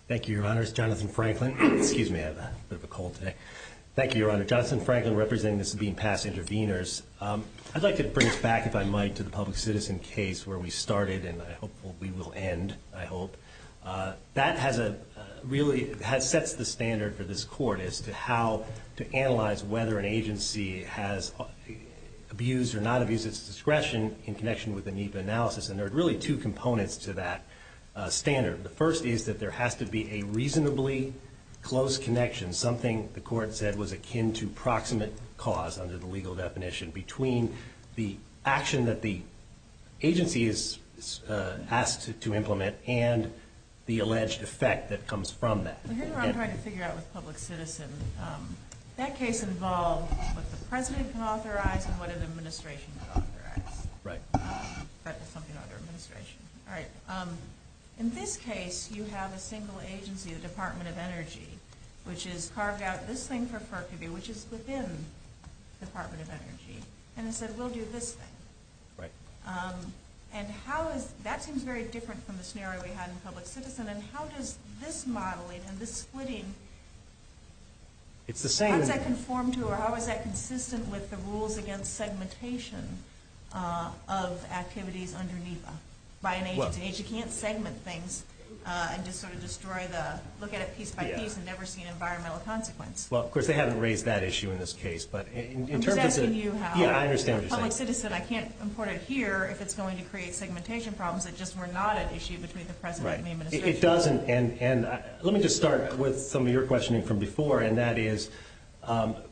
Thank you, Your Honor. It's Jonathan Franklin. Excuse me, I have a bit of a cold today. Thank you, Your Honor. Jonathan Franklin representing this being past interveners. I'd like to bring us back, if I might, to the public citizen case where we started, and I hope we will end, I hope. That really sets the standard for this court as to how to analyze whether an agency has abused or not abused its discretion in connection with the need for analysis, and there are really two components to that standard. The first is that there has to be a reasonably close connection, something the court said was akin to proximate cause under the legal definition, between the action that the agency is asked to implement and the alleged effect that comes from that. The case I'm trying to figure out with public citizens, that case involves what the president can authorize and what an administration can authorize. Right. That is something under administration. All right. In this case, you have a single agency, the Department of Energy, which has carved out this thing for Perkivy, which is within the Department of Energy, and it says we'll do this thing. Right. And that seems very different from the scenario we had in public citizen, and how does this modeling and this splitting, how is that conformed to or how is that consistent with the rules against segmentation of activities underneath them? By an agency, you can't segment things and just sort of destroy the, look at it piece by piece and never see an environmental consequence. Well, of course, they haven't raised that issue in this case, but in terms of this. I'm asking you how. Yeah, I understand what you're saying. Public citizen, I can't import it here if it's going to create segmentation problems that just were not an issue between the president and the administration. Right. It doesn't, and let me just start with some of your questioning from before, and that is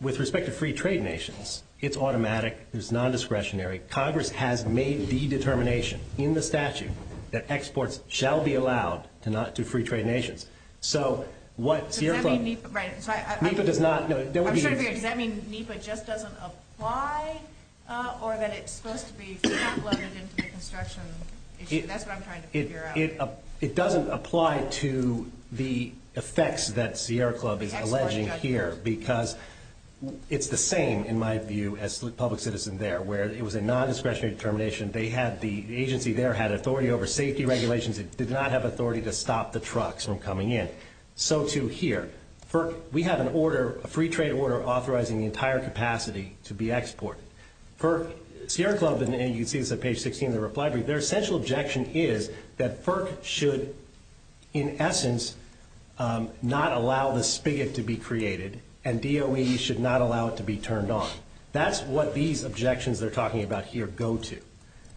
with respect to free trade nations, it's automatic. It's non-discretionary. Congress has made the determination in the statute that exports shall be allowed to free trade nations. So what's your thought? Right. MEPA does not. I'm sorry to be rude. Does that mean MEPA just doesn't apply or that it's supposed to be leveraged into the construction issue? That's what I'm trying to figure out. It doesn't apply to the effects that Sierra Club is alleging here because it's the same in my view as public citizen there where it was a non-discretionary determination. The agency there had authority over safety regulations. It did not have authority to stop the trucks from coming in. So too here. FERC, we have an order, a free trade order, authorizing the entire capacity to be exported. FERC, Sierra Club in the AUC is on page 16 of the reply brief. Their essential objection is that FERC should in essence not allow the spigot to be created and DOE should not allow it to be turned on. That's what these objections they're talking about here go to,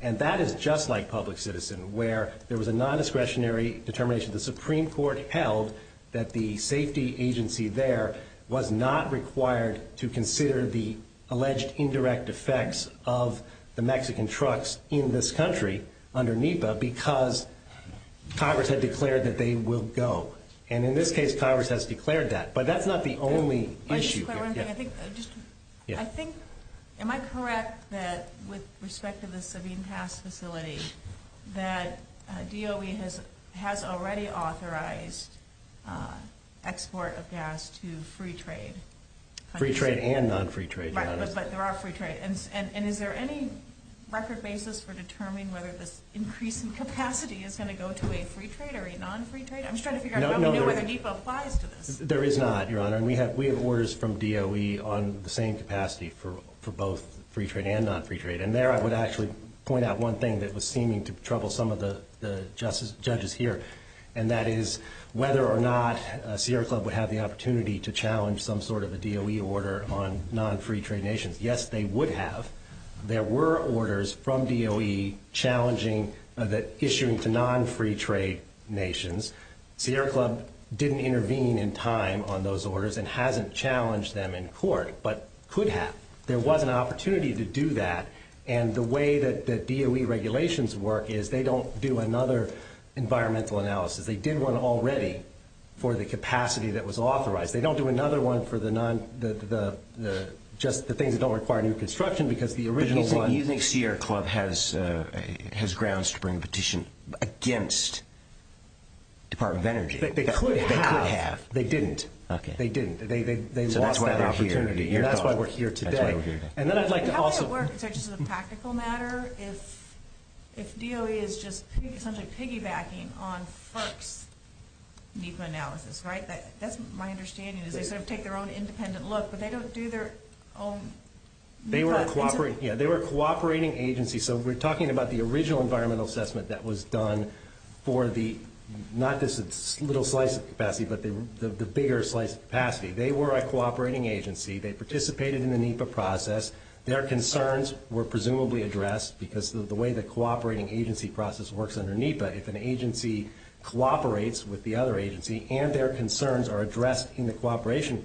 and that is just like public citizen where there was a non-discretionary determination. The Supreme Court held that the safety agency there was not required to consider the alleged indirect effects of the Mexican trucks in this country under NEPA because Congress has declared that they will go. And in this case, Congress has declared that. But that's not the only issue. I think, am I correct that with respect to the Savine Pass facility, that DOE has already authorized export of gas to free trade? Free trade and non-free trade, Your Honor. But there are free trade. And is there any record basis for determining whether the increase in capacity is going to go to a free trade or a non-free trade? I'm just trying to figure out how many NEPA applies to this. There is not, Your Honor. And we have orders from DOE on the same capacity for both free trade and non-free trade. And there I would actually point out one thing that was seeming to trouble some of the judges here, and that is whether or not Sierra Club would have the opportunity to challenge some sort of a DOE order on non-free trade nations. Yes, they would have. There were orders from DOE issuing to non-free trade nations. Sierra Club didn't intervene in time on those orders and hasn't challenged them in court, but could have. There was an opportunity to do that, and the way that DOE regulations work is they don't do another environmental analysis. They did one already for the capacity that was authorized. They don't do another one for the non – just the thing that don't require new construction because the original one – Do you think Sierra Club has grounds to bring a petition against Department of Energy? They could have. They could have. They didn't. Okay. They didn't. They lost that opportunity. So that's why they're here. That's why we're here today. That's why we're here. And then I'd like to also – How does it work in terms of the practical matter if DOE is just piggybacking on FERC's need for analysis, right? That's my understanding. They sort of take their own independent look, but they don't do their own – They were a cooperating agency, that was done for the – not this little slice of capacity, but the bigger slice of capacity. They were a cooperating agency. They participated in the NEPA process. Their concerns were presumably addressed because of the way the cooperating agency process works under NEPA. If an agency cooperates with the other agency and their concerns are addressed in the cooperation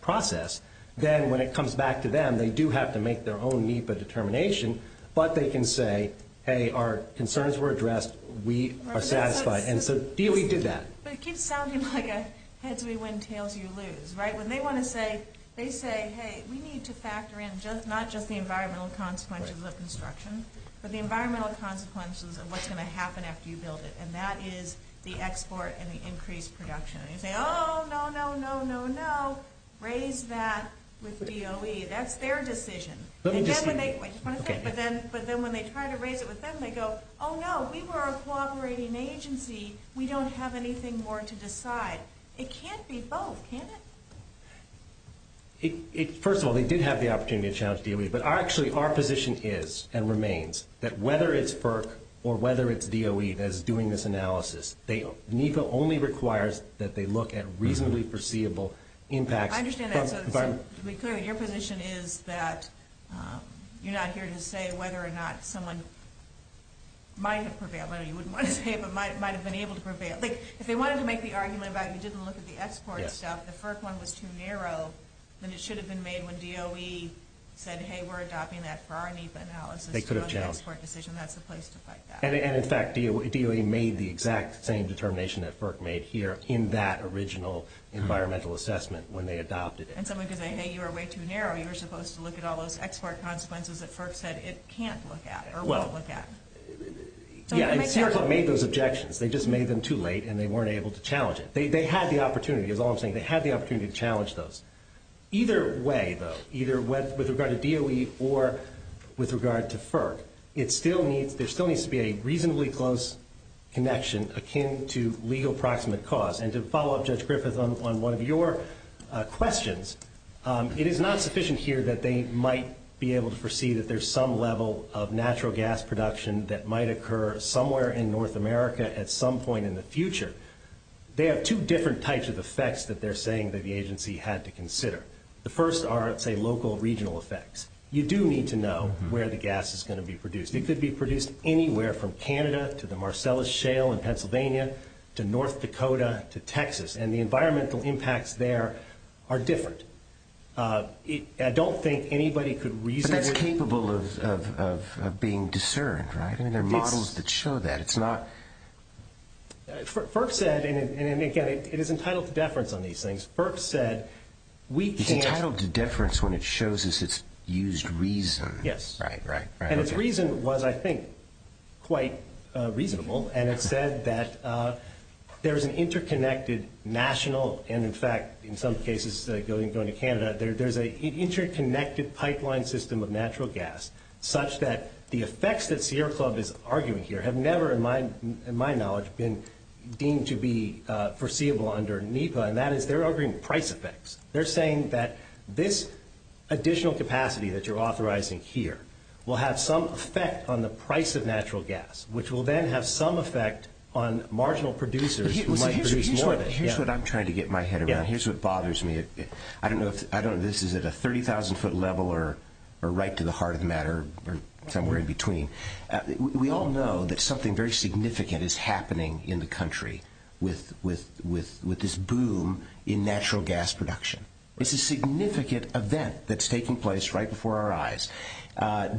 process, then when it comes back to them, they do have to make their own NEPA determination, but they can say, hey, our concerns were addressed. We are satisfied. And so DOE did that. But it keeps sounding like a heads, we win, tails, you lose, right? When they want to say – they say, hey, we need to factor in not just the environmental consequences of the construction, but the environmental consequences of what's going to happen after you build it, and that is the export and the increased production. And you say, oh, no, no, no, no, no. Raise that with DOE. That's their decision. And then when they try to raise it with them, they go, oh, no. We were a cooperating agency. We don't have anything more to decide. It can't be both, can it? First of all, they did have the opportunity to challenge DOE, but actually our position is and remains that whether it's FERC or whether it's DOE that is doing this analysis, NEPA only requires that they look at reasonably foreseeable impacts. I understand that, but your position is that you're not here to say whether or not someone might have prevailed. I know you wouldn't want to say, but might have been able to prevail. If they wanted to make the argument about it and didn't look at the export stuff, the FERC one was too narrow, then it should have been made when DOE said, hey, we're adopting that for our needs analysis. They could have challenged. That's the place to fight that. And, in fact, DOE made the exact same determination that FERC made here in that original environmental assessment when they adopted it. And someone could say, hey, you're way too narrow. You're supposed to look at all those export consequences that FERC said. It can't look at it or won't look at it. Yeah, and FERC made those objections. They just made them too late and they weren't able to challenge it. They had the opportunity, is all I'm saying. They had the opportunity to challenge those. Either way, though, either with regard to DOE or with regard to FERC, there still needs to be a reasonably close connection akin to legal proximate cause. And to follow up, Judge Griffith, on one of your questions, it is not sufficient here that they might be able to foresee that there's some level of natural gas production that might occur somewhere in North America at some point in the future. There are two different types of effects that they're saying that the agency had to consider. The first are, say, local regional effects. You do need to know where the gas is going to be produced. It could be produced anywhere from Canada to the Marcellus Shale in Pennsylvania to North Dakota to Texas. And the environmental impacts there are different. I don't think anybody could reason it. But they're capable of being discerned, right? I mean, there are models that show that. FERC said, and again, it is entitled to deference on these things. FERC said we can't. It's entitled to deference when it shows us it's used reason. Yes. Right, right, right. And its reason was, I think, quite reasonable. And it said that there's an interconnected national and, in fact, in some cases going to Canada, there's an interconnected pipeline system of natural gas such that the effects that Sierra Club is arguing here have never, in my knowledge, been deemed to be foreseeable under NEPA. And that is they're arguing price effects. They're saying that this additional capacity that you're authorizing here will have some effect on the price of natural gas, which will then have some effect on marginal producers who might produce more of it. Here's what I'm trying to get my head around. Here's what bothers me. I don't know if this is at a 30,000-foot level or right to the heart of the matter or somewhere in between. We all know that something very significant is happening in the country with this boom in natural gas production. It's a significant event that's taking place right before our eyes.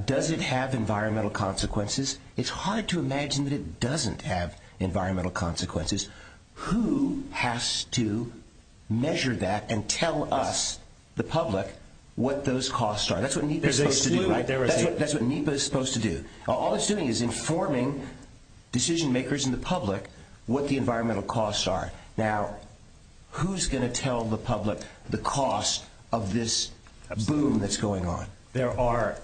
Does it have environmental consequences? It's hard to imagine that it doesn't have environmental consequences. Who has to measure that and tell us, the public, what those costs are? That's what NEPA is supposed to do. That's what NEPA is supposed to do. All it's doing is informing decision-makers and the public what the environmental costs are. Now, who's going to tell the public the cost of this boom that's going on? There are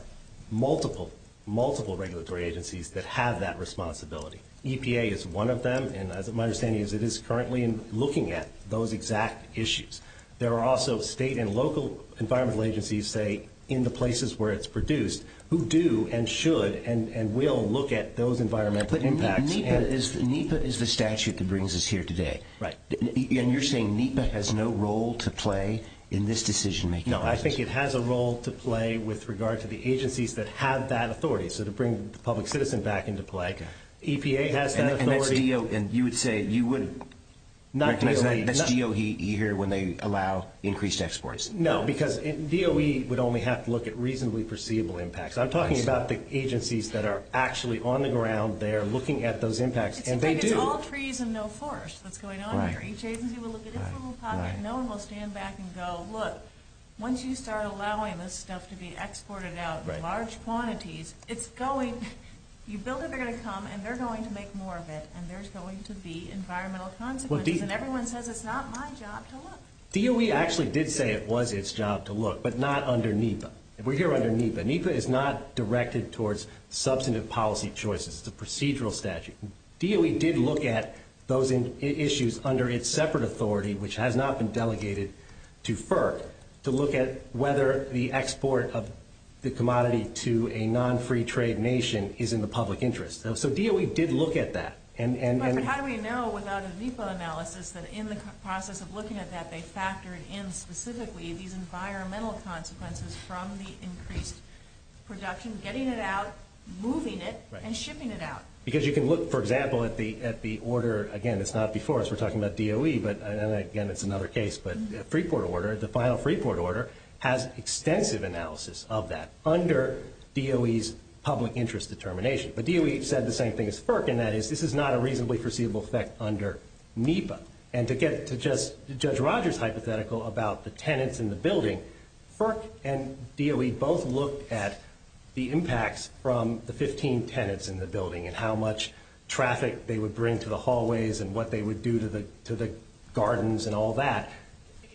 multiple, multiple regulatory agencies that have that responsibility. EPA is one of them, and my understanding is it is currently looking at those exact issues. There are also state and local environmental agencies, say, in the places where it's produced, who do and should and will look at those environmental impacts. But NEPA is the statute that brings us here today. Right. And you're saying NEPA has no role to play in this decision-making process? No. I think it has a role to play with regard to the agencies that have that authority. So to bring the public citizen back into play, EPA has that authority. And you would say you wouldn't. Not DOE. It's DOE here when they allow increased exports. No, because DOE would only have to look at reasonably perceivable impacts. I'm talking about the agencies that are actually on the ground there looking at those impacts, and they do. It's like it's all trees and no forest. What's going on here? Right. DOE actually did say it was its job to look, but not under NEPA. We're here under NEPA. NEPA is not directed towards substantive policy choices. It's a procedural statute. DOE did look at those issues under its separate authority, which has not been delegated to FERC, to look at whether the export of the commodity to a non-free trade nation is in the public interest. So DOE did look at that. How do we know without a ZIPA analysis that in the process of looking at that, they factored in specifically these environmental consequences from the increased production, getting it out, moving it, and shipping it out? Because you can look, for example, at the order. Again, it's not the source. We're talking about DOE, but again, it's another case. But the final free port order has extensive analysis of that under DOE's public interest determination. But DOE said the same thing as FERC, and that is this is not a reasonably perceivable effect under NEPA. And to get to Judge Rogers' hypothetical about the tenants in the building, FERC and DOE both looked at the impacts from the 15 tenants in the building and how much traffic they would bring to the hallways and what they would do to the gardens and all that.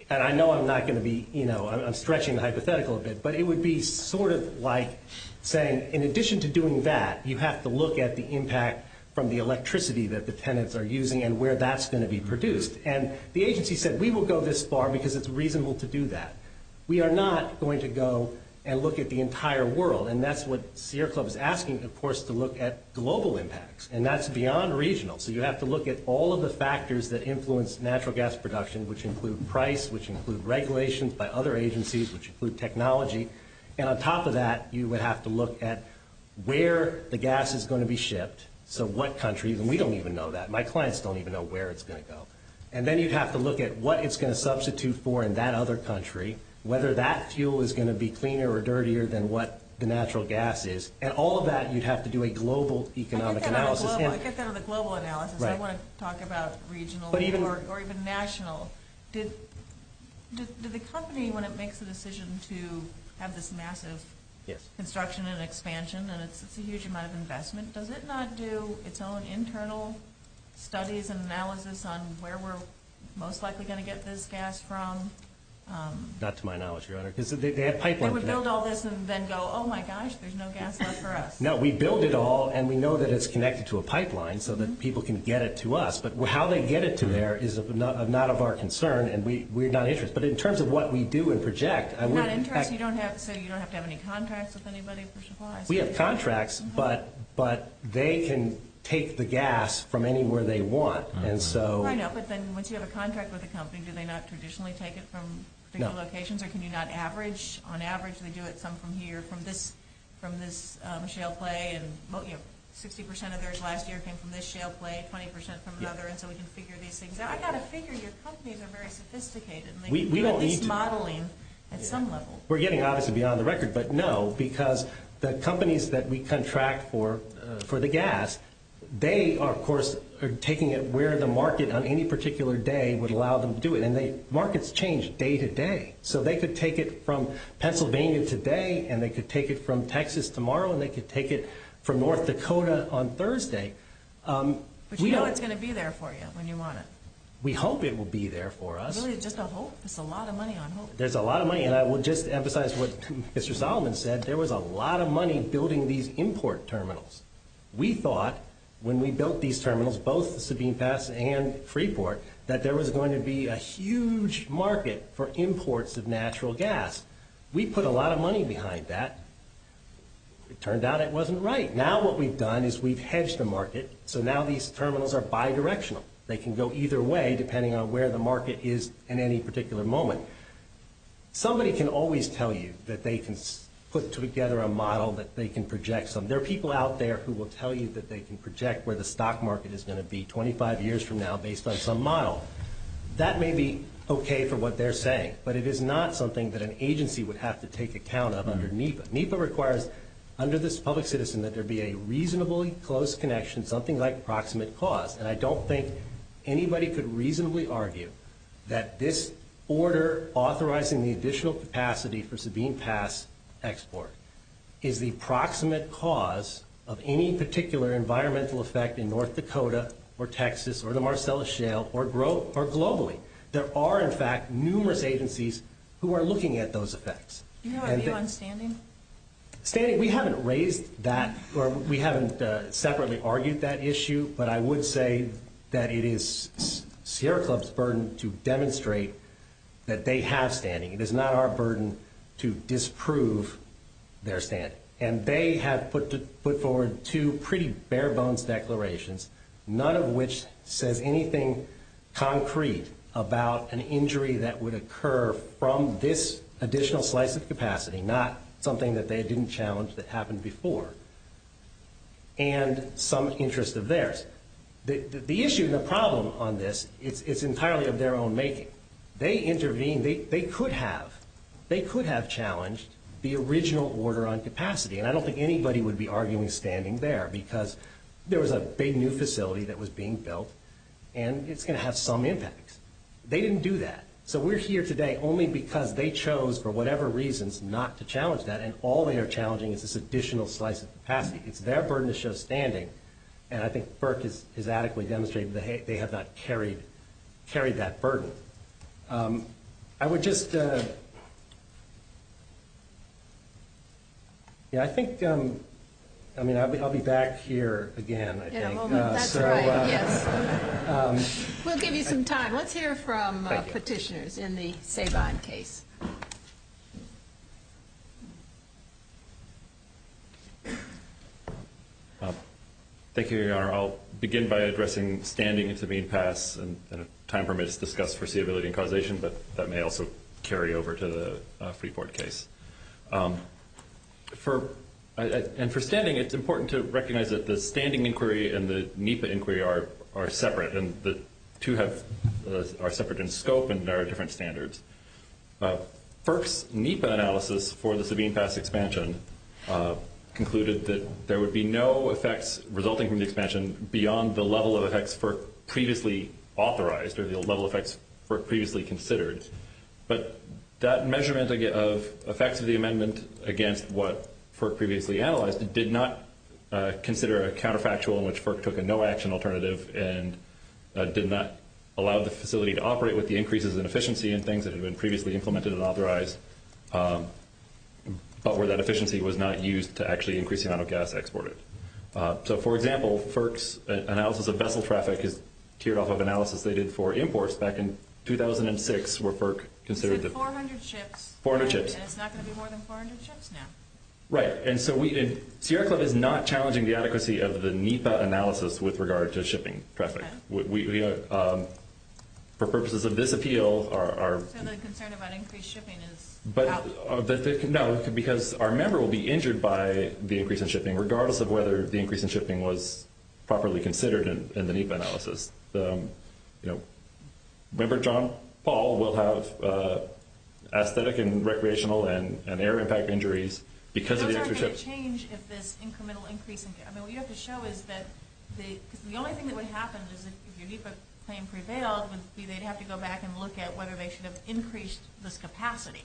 And I know I'm not going to be, you know, I'm stretching the hypothetical a bit, but it would be sort of like saying in addition to doing that, you have to look at the impact from the electricity that the tenants are using and where that's going to be produced. And the agency said we will go this far because it's reasonable to do that. We are not going to go and look at the entire world, and that's what Sierra Club is asking, of course, to look at global impacts. And that's beyond regional. So you have to look at all of the factors that influence natural gas production, which include price, which include regulations by other agencies, which include technology. And on top of that, you would have to look at where the gas is going to be shipped, so what countries, and we don't even know that. My clients don't even know where it's going to go. And then you'd have to look at what it's going to substitute for in that other country, whether that fuel is going to be cleaner or dirtier than what the natural gas is. And all of that, you'd have to do a global economic analysis. Let's get that on the global analysis. I want to talk about regional or even national. Does the company, when it makes the decision to have this massive construction and expansion, and it's a huge amount of investment, does it not do its own internal studies and analysis on where we're most likely going to get this gas from? Not to my knowledge, Your Honor. They have pipelines. It would build all this and then go, oh, my gosh, there's no gas left for us. No, we build it all, and we know that it's connected to a pipeline so that people can get it to us. But how they get it to there is not of our concern, and we're not interested. But in terms of what we do and project, I would – So you don't have to have any contracts with anybody for supplies? We have contracts, but they can take the gas from anywhere they want. I know, but then once you have a contract with a company, do they not traditionally take it from different locations or can you not average? On average, they do it some from here, from this shale clay, and 50% of theirs last year came from this shale clay, 20% from another, and so we can figure these things out. I've got to figure. Your companies are very sophisticated in their modeling at some level. We're getting, obviously, beyond the record, but no, because the companies that we contract for the gas, they, of course, are taking it where the market on any particular day would allow them to do it, and markets change day to day. So they could take it from Pennsylvania today, and they could take it from Texas tomorrow, and they could take it from North Dakota on Thursday. But you know it's going to be there for you when you want it. We hope it will be there for us. Really, just a hope? There's a lot of money on hope. There's a lot of money, and I will just emphasize what Mr. Solomon said. There was a lot of money building these import terminals. We thought when we built these terminals, both the Sabine Pass and Freeport, that there was going to be a huge market for imports of natural gas. We put a lot of money behind that. It turned out it wasn't right. Now what we've done is we've hedged the market, so now these terminals are bidirectional. They can go either way depending on where the market is in any particular moment. Somebody can always tell you that they can put together a model that they can project. There are people out there who will tell you that they can project where the stock market is going to be 25 years from now based on some model. That may be okay for what they're saying, but it is not something that an agency would have to take account of under NEPA. NEPA requires under this public citizen that there be a reasonably close connection, something like proximate cause, and I don't think anybody could reasonably argue that this order authorizing the additional capacity for Sabine Pass export is the proximate cause of any particular environmental effect in North Dakota or Texas or the Marcellus Shale or globally. There are, in fact, numerous agencies who are looking at those effects. Do you have anyone standing? We haven't raised that or we haven't separately argued that issue, but I would say that it is Sierra Club's burden to demonstrate that they have standing. It is not our burden to disprove their standing, and they have put forward two pretty bare bones declarations, none of which says anything concrete about an injury that would occur from this additional slice of capacity, not something that they didn't challenge that happened before, and some interest of theirs. The issue and the problem on this is entirely of their own making. They intervened. They could have. They could have challenged the original order on capacity, and I don't think anybody would be arguing standing there because there was a big new facility that was being built, and it's going to have some impact. They didn't do that. So we're here today only because they chose, for whatever reasons, not to challenge that, and all they are challenging is this additional slice of capacity. It's their burden to show standing, and I think Burke has adequately demonstrated they have not carried that burden. I would just ‑‑ I think I'll be back here again, I think. We'll give you some time. Let's hear from petitioners in the Hayvon case. Thank you, Your Honor. I'll begin by addressing standing as being passed and time permits discussed for seeability and causation, but that may also carry over to the Freeport case. For standing, it's important to recognize that the standing inquiry and the NEPA inquiry are separate, and the two are separate in scope and there are different standards. First, NEPA analysis for the Sabine Pass expansion concluded that there would be no effects resulting from the expansion beyond the level of effects Burke previously authorized or the level of effects Burke previously considered, but that measurement of effects of the amendment against what Burke previously analyzed did not consider a counterfactual in which Burke took a no-action alternative and did not allow the facility to operate with the increases in efficiency in things that had been previously implemented and authorized, but where that efficiency was not used to actually increase the amount of gas exported. So, for example, Burke's analysis of vessel traffic is teared off of analysis they did for imports back in 2006 where Burke considered the ‑‑ 400 ships. 400 ships. And it's not going to be more than 400 ships now. Right. And so, Sierra Club is not challenging the adequacy of the NEPA analysis with regard to shipping traffic. For purposes of this appeal, our ‑‑ So the concern about increased shipping is out. No, because our member will be injured by the increase in shipping regardless of whether the increase in shipping was properly considered in the NEPA analysis. So, you know, member John Paul because of the increase in shipping. What could change if this incremental increase in ‑‑ I mean, what you have to show is that the only thing that would happen if the NEPA claim prevails is that they'd have to go back and look at whether they should have increased the capacity.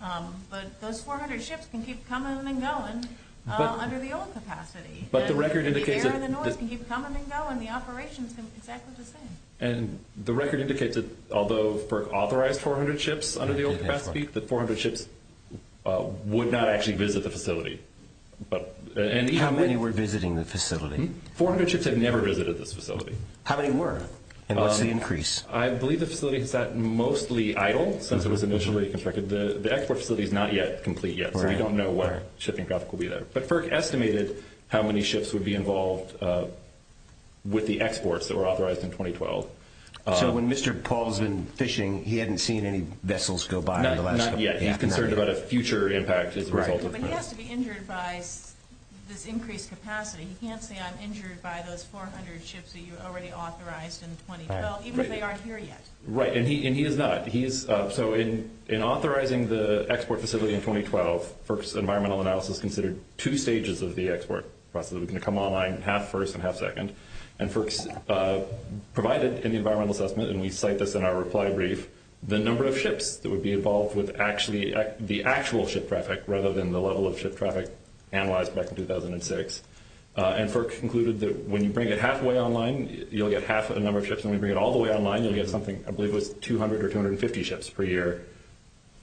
But those 400 ships can keep coming and going under the old capacity. But the record indicates that ‑‑ They can keep coming and going. The operations are exactly the same. And the record indicates that although for authorized 400 ships under the old capacity, the 400 ships would not actually visit the facility. How many were visiting the facility? 400 ships had never visited this facility. How many were? And what's the increase? I believe the facility is mostly idle since it was initially constructed. The export facility is not yet complete yet. We don't know what shipping cost will be there. But FERC estimated how many ships would be involved with the exports that were authorized in 2012. he hasn't seen any vessels go by in the last couple of days? Not yet. He's concerned about a future impact as a result of that. But he has to be injured by this increased capacity. He can't say I'm injured by those 400 ships that you've already authorized in 2012, even if they aren't here yet. Right. And he is not. So in authorizing the export facility in 2012, FERC's environmental analysis considered two stages of the export process. We can come online half‑first and half‑second. And FERC provided in the environmental assessment, and we cite this in our reply brief, the number of ships that would be involved with the actual ship traffic rather than the level of ship traffic analyzed back in 2006. And FERC concluded that when you bring it halfway online, you'll get half the number of ships. When you bring it all the way online, you'll get something, I believe, with 200 or 250 ships per year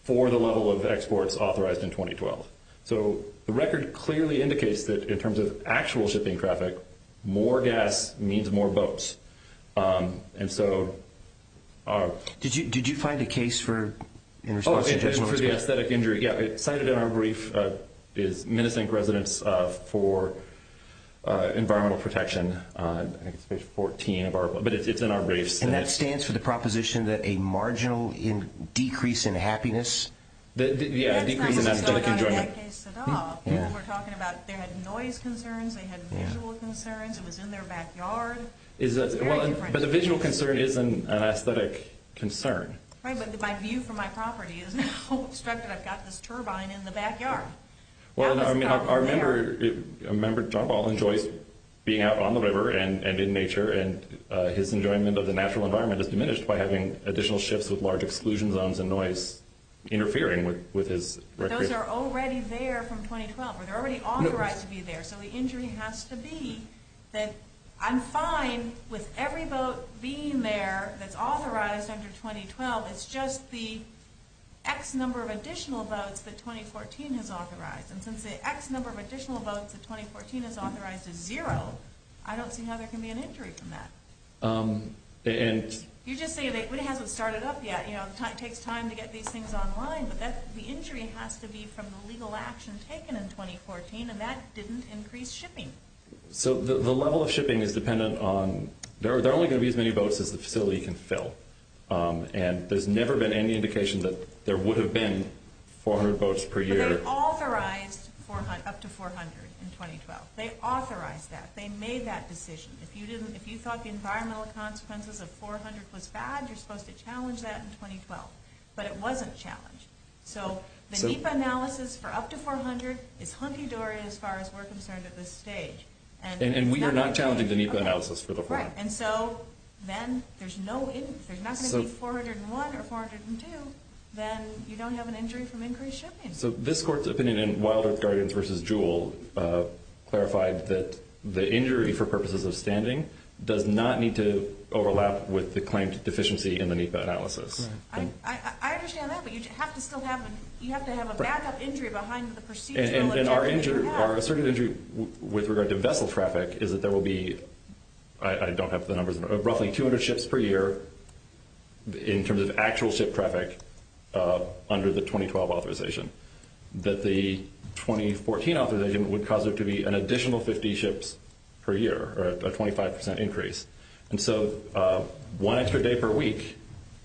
for the level of exports authorized in 2012. So the record clearly indicates that in terms of actual shipping traffic, more gas means more boats. And so... Did you find a case for... Oh, yeah, for the aesthetic injury. Yeah, it's cited in our brief. It's Minnesota residents for environmental protection. There's 14 of our... But it's in our brief. And that stands for the proposition that a marginal decrease in happiness... Yeah, decrease in happiness. We're talking about they had noise concerns, they had visual concerns, it was in their backyards. But the visual concern isn't an aesthetic concern. Right, but my view for my property is now struck that I've got this turbine in the backyard. Well, our member, John Ball, enjoys being out on the river and in nature, and his enjoyment of the natural environment is diminished by having additional ships with large exclusion zones and noise interfering with his recreation. Those are already there from 2012. They're already authorized to be there. So the injury has to be that I'm fine with every boat being there that's authorized under 2012. It's just the X number of additional boats that 2014 has authorized. And since the X number of additional boats that 2014 has authorized is zero, I don't see how there can be an injury from that. You just say that we haven't started up yet. It takes time to get these things online. But the injury has to be from the legal action taken in 2014, and that didn't increase shipping. So the level of shipping is dependent on... There are only going to be as many boats as the facility can fill. And there's never been any indication that there would have been 400 boats per year. But they authorized up to 400 in 2012. They authorized that. They made that decision. If you thought the environmental consequences of 400 was bad, you're supposed to challenge that in 2012. But it wasn't challenged. So the NEPA analysis for up to 400, it's hunky-dory as far as we're concerned at this stage. And we are not challenging the NEPA analysis for the 400. And so then there's no... If you're not going to see 401 or 402, then you don't have an injury from increased shipping. So this court's opinion in Wilder Gardens v. Jewell clarified that the injury for purposes of standing does not need to overlap with the claim to deficiency in the NEPA analysis. I understand that, but you have to have a backup injury behind the procedure. And our asserted injury with regard to vessel traffic is that there will be... I don't have the numbers, but roughly 200 ships per year in terms of actual ship traffic under the 2012 authorization. But the 2014 authorization would cause there to be an additional 50 ships per year, a 25% increase. And so one extra day per week,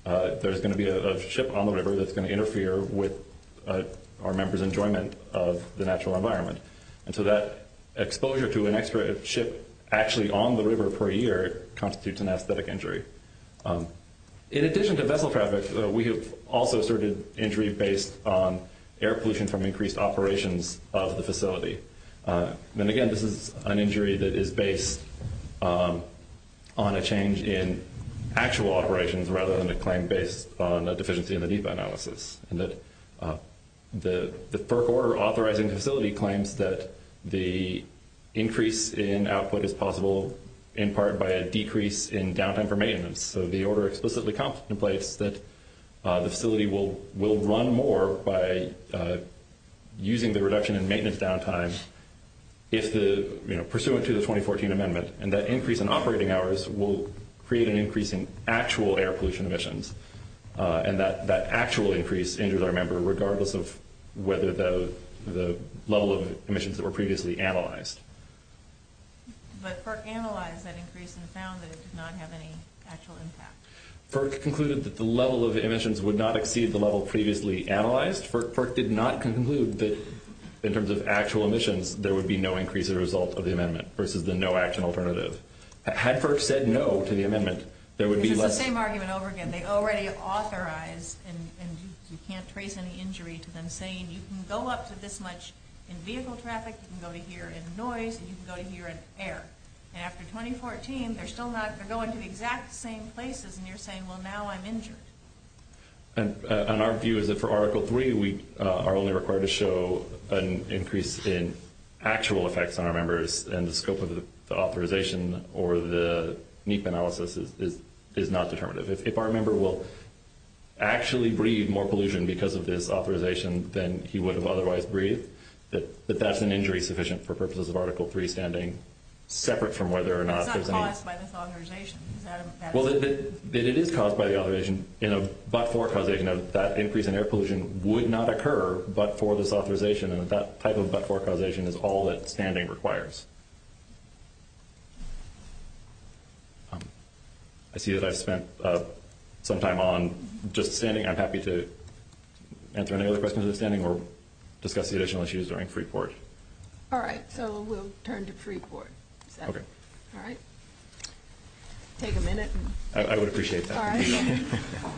there's going to be a ship on the river that's going to interfere with our members' enjoyment of the natural environment. And so that exposure to an extra ship actually on the river per year constitutes an aesthetic injury. In addition to vessel traffic, we have also asserted injury based on air pollution from increased operations of the facility. And again, this is an injury that is based on a change in actual operations rather than a claim based on the deficiency in the NEPA analysis. The FERC order authorizing the facility claims that the increase in output is possible in part by a decrease in downtime for maintenance. So the order explicitly contemplates that the facility will run more by using the reduction in maintenance downtime pursuant to the 2014 amendment. And that increase in operating hours will create an increase in actual air pollution emissions. And that actual increase injures our member regardless of whether the level of emissions that were previously analyzed. But FERC analyzed that increase and found that it did not have any actual impact. FERC concluded that the level of emissions would not exceed the level previously analyzed. FERC did not conclude that in terms of actual emissions, there would be no increase in result of the amendment versus the no action alternative. Had FERC said no to the amendment, there would be less... It's the same argument over again. They already have authorized and you can't trace any injury to them saying you can go up to this much in vehicle traffic, you can go to here in noise, and you can go to here in air. And after 2014, they're still not, they're going to the exact same places and you're saying, well, now I'm injured. And our view is that for Article 3, we are only required to show an increase in actual effects on our members and the scope of the authorization or the NEPA analysis is not determined. If our member will actually breathe more pollution because of this authorization than he would have otherwise breathed, that that's an injury sufficient for purposes of Article 3 standing separate from whether or not... It's not caused by this authorization. Well, it is caused by the authorization in a but-for causation of that increase in air pollution would not occur but for this authorization and that type of but-for causation is all that standing requires. I see that I've spent some time on just standing. I'm happy to answer any other questions in standing or discuss the additional issues during pre-court. All right, so we'll turn to pre-court. Okay. All right. Take a minute. I would appreciate that. All right.